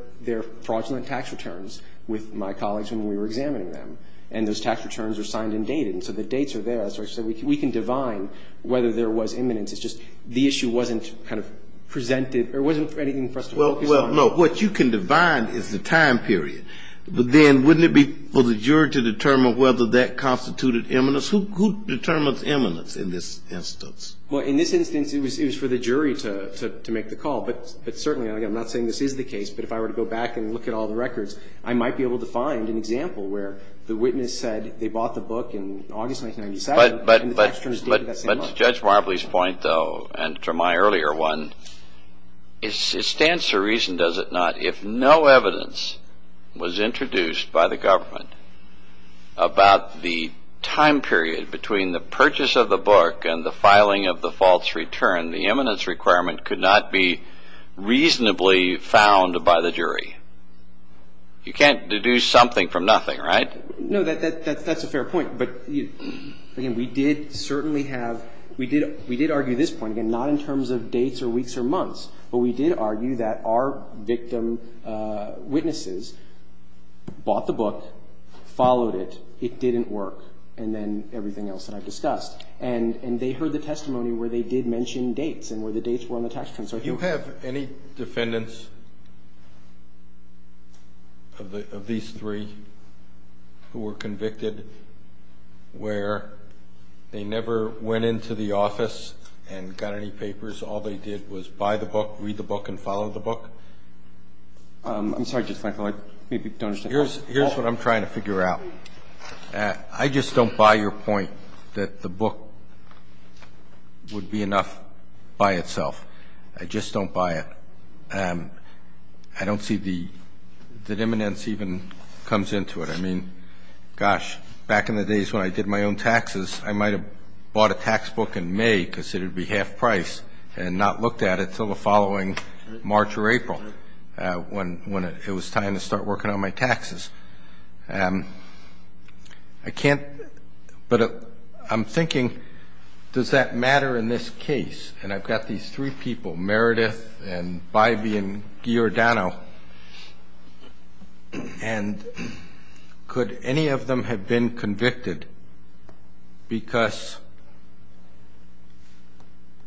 fraudulent tax returns with my colleagues when we were examining them. And those tax returns are signed and dated. And so the dates are there. So I said, we can divine whether there was imminence. It's just the issue wasn't kind of presented. There wasn't anything for us to focus on. Well, no, what you can divide is the time period. But then wouldn't it be for the juror to determine whether that constituted imminence? Who determines imminence in this instance? Well, in this instance, it was for the jury to make the call. But certainly, again, I'm not saying this is the case. But if I were to go back and look at all the records, I might be able to find an example where the witness said they bought the book in August 1997. But Judge Marbley's point, though, and from my earlier one, it stands to reason, does it not, if no evidence was introduced by the government about the time period between the purchase of the book and the filing of the false return, the imminence requirement could not be reasonably found by the jury? You can't deduce something from nothing, right? No, that's a fair point. But again, we did argue this point, again, not in terms of dates or weeks or months, but we did argue that our victim witnesses bought the book, followed it, it didn't work, and then everything else that I've discussed. And they heard the testimony where they did mention dates and where the dates were on the tax return. Do you have any defendants of these three who were convicted where they never went into the office and got any papers, all they did was buy the book, read the book, and follow the book? I'm sorry, Judge Michael, I maybe don't understand. Here's what I'm trying to figure out. I just don't buy your point that the book would be enough by itself. I just don't buy it. I don't see the imminence even comes into it. I mean, gosh, back in the days when I did my own taxes, I might have bought a tax book in May because it would be half price and not looked at it until the following March or April when it was time to start working on my taxes. I can't, but I'm thinking, does that matter in this case? And I've got these three people, Meredith and Byvie and Giordano. And could any of them have been convicted because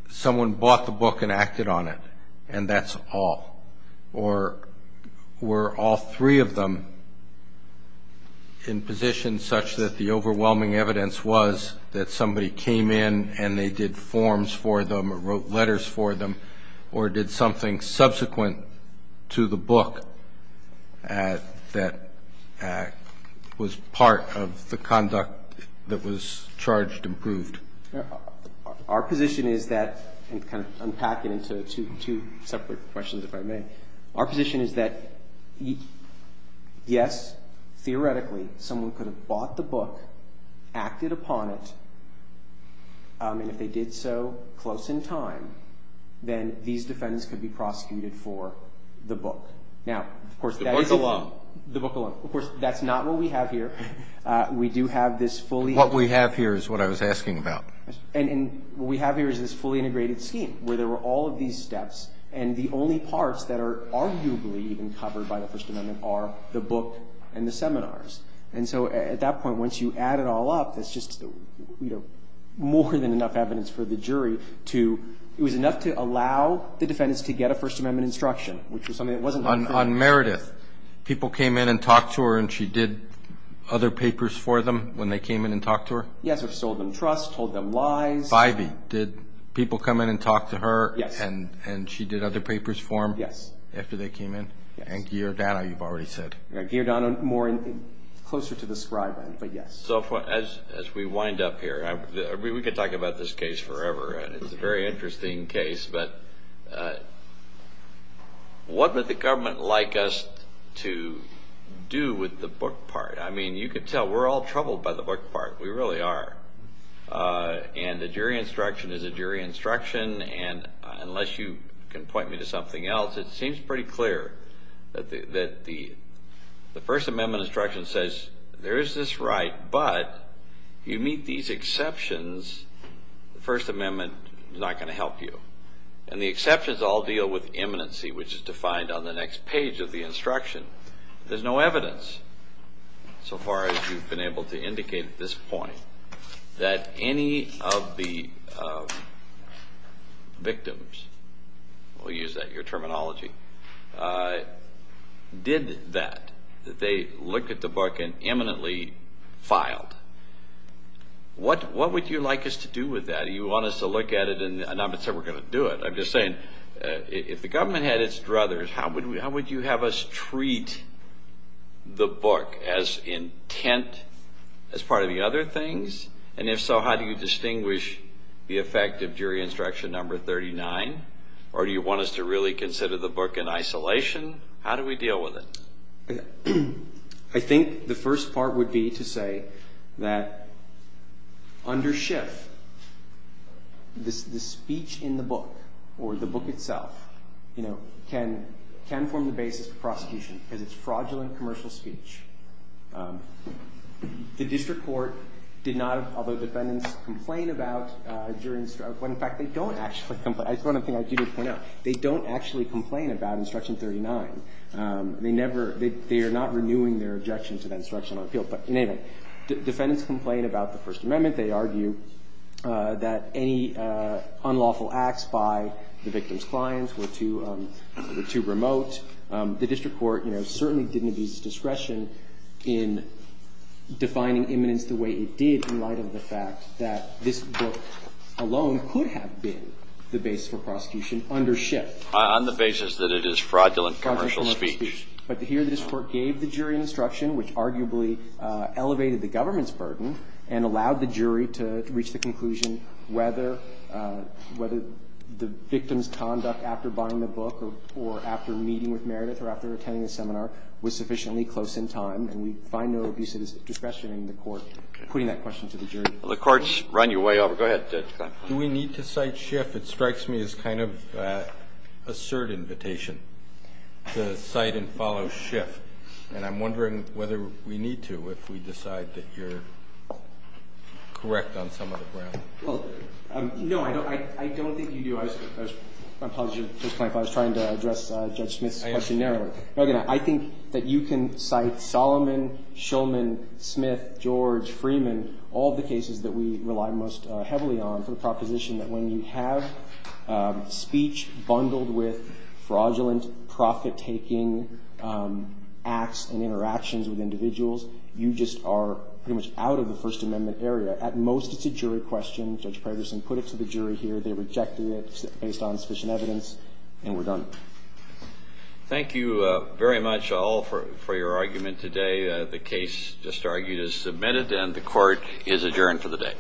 someone bought the book and acted on it and that's all? Or were all three of them in positions such that the overwhelming evidence was that somebody came in and they did forms for them or wrote letters for them or did something subsequent to the book that was part of the conduct that was charged and proved? Our position is that, and kind of unpack it into two separate questions, if I may. Our position is that, yes, theoretically, someone could have bought the book, acted upon it, and if they did so close in time, then these defendants could be prosecuted for the book. Now, of course, that is the law. The book alone. Of course, that's not what we have here. We do have this fully... What we have here is what I was asking about. And what we have here is this fully integrated scheme where there were all of these steps and the only parts that are arguably even covered by the First Amendment are the book and the seminars. And so at that point, once you add it all up, it's just more than enough evidence for the jury to... It was enough to allow the defendants to get a First Amendment instruction, which was something that wasn't... On Meredith, people came in and talked to her and she did other papers for them when they came in and talked to her? Yes, or sold them trust, told them lies. Did people come in and talk to her and she did other papers for them after they came in? And Giardano, you've already said. Giardano, closer to the scribe, but yes. So as we wind up here, we could talk about this case forever and it's a very interesting case, but what would the government like us to do with the book part? I mean, you could tell we're all troubled by the book part. We really are. And the jury instruction is a jury instruction and unless you can point me to something else, it seems pretty clear that the First Amendment instruction says there is this right, but you meet these exceptions, the First Amendment is not going to help you. And the exceptions all deal with imminency, which is defined on the next page of the instruction. There's no evidence so far as you've been able to indicate at this point. That any of the victims, we'll use that, your terminology, did that, that they looked at the book and imminently filed. What would you like us to do with that? Do you want us to look at it and I'm not going to say we're going to do it. I'm just saying if the government had its druthers, how would you have us treat the book as intent as part of the other things and if so, how do you distinguish the effect of jury instruction number 39 or do you want us to really consider the book in isolation? How do we deal with it? I think the first part would be to say that under Schiff, the speech in the book or the book itself, you know, can form the basis of prosecution and it's fraudulent commercial speech. The district court did not, although defendants complain about jury instruction, in fact, they don't actually complain. I just want to say, I do want to point out, they don't actually complain about instruction 39. They never, they are not renewing their objections to that instruction or appeal. But anyway, defendants complain about the First Amendment. They argue that any unlawful acts by the victim's clients were too remote. The district court, you know, certainly didn't abuse discretion in defining imminence the way it did in light of the fact that this book alone could have been the base for prosecution under Schiff. On the basis that it is fraudulent commercial speech. But here the district court gave the jury instruction which arguably elevated the government's burden and allowed the jury to reach the conclusion whether the victim's conduct after buying the book or after meeting with Meredith or after attending the seminar was sufficiently close in time. And we find no abuses of discretion in the court putting that question to the jury. Well, the court's run your way over. Go ahead. Do we need to cite Schiff? It strikes me as kind of a certain invitation to cite and follow Schiff. And I'm wondering whether we need to if we decide that you're correct on some of the ground. Well, no, I don't think you do. I was trying to address Judge Smith's question narrowly. I think that you can cite Solomon, Shulman, Smith, George, Freeman all the cases that we rely most heavily on for proposition that when you have speech bundled with fraudulent profit-taking acts and interactions with individuals, you just are pretty much out of the First Amendment area. At most, it's a jury question. Judge Patterson put it to the jury here. They rejected it based on sufficient evidence. And we're done. Thank you very much, all, for your argument today. The case, just argued, is submitted and the court is adjourned for the day. Thank you very much.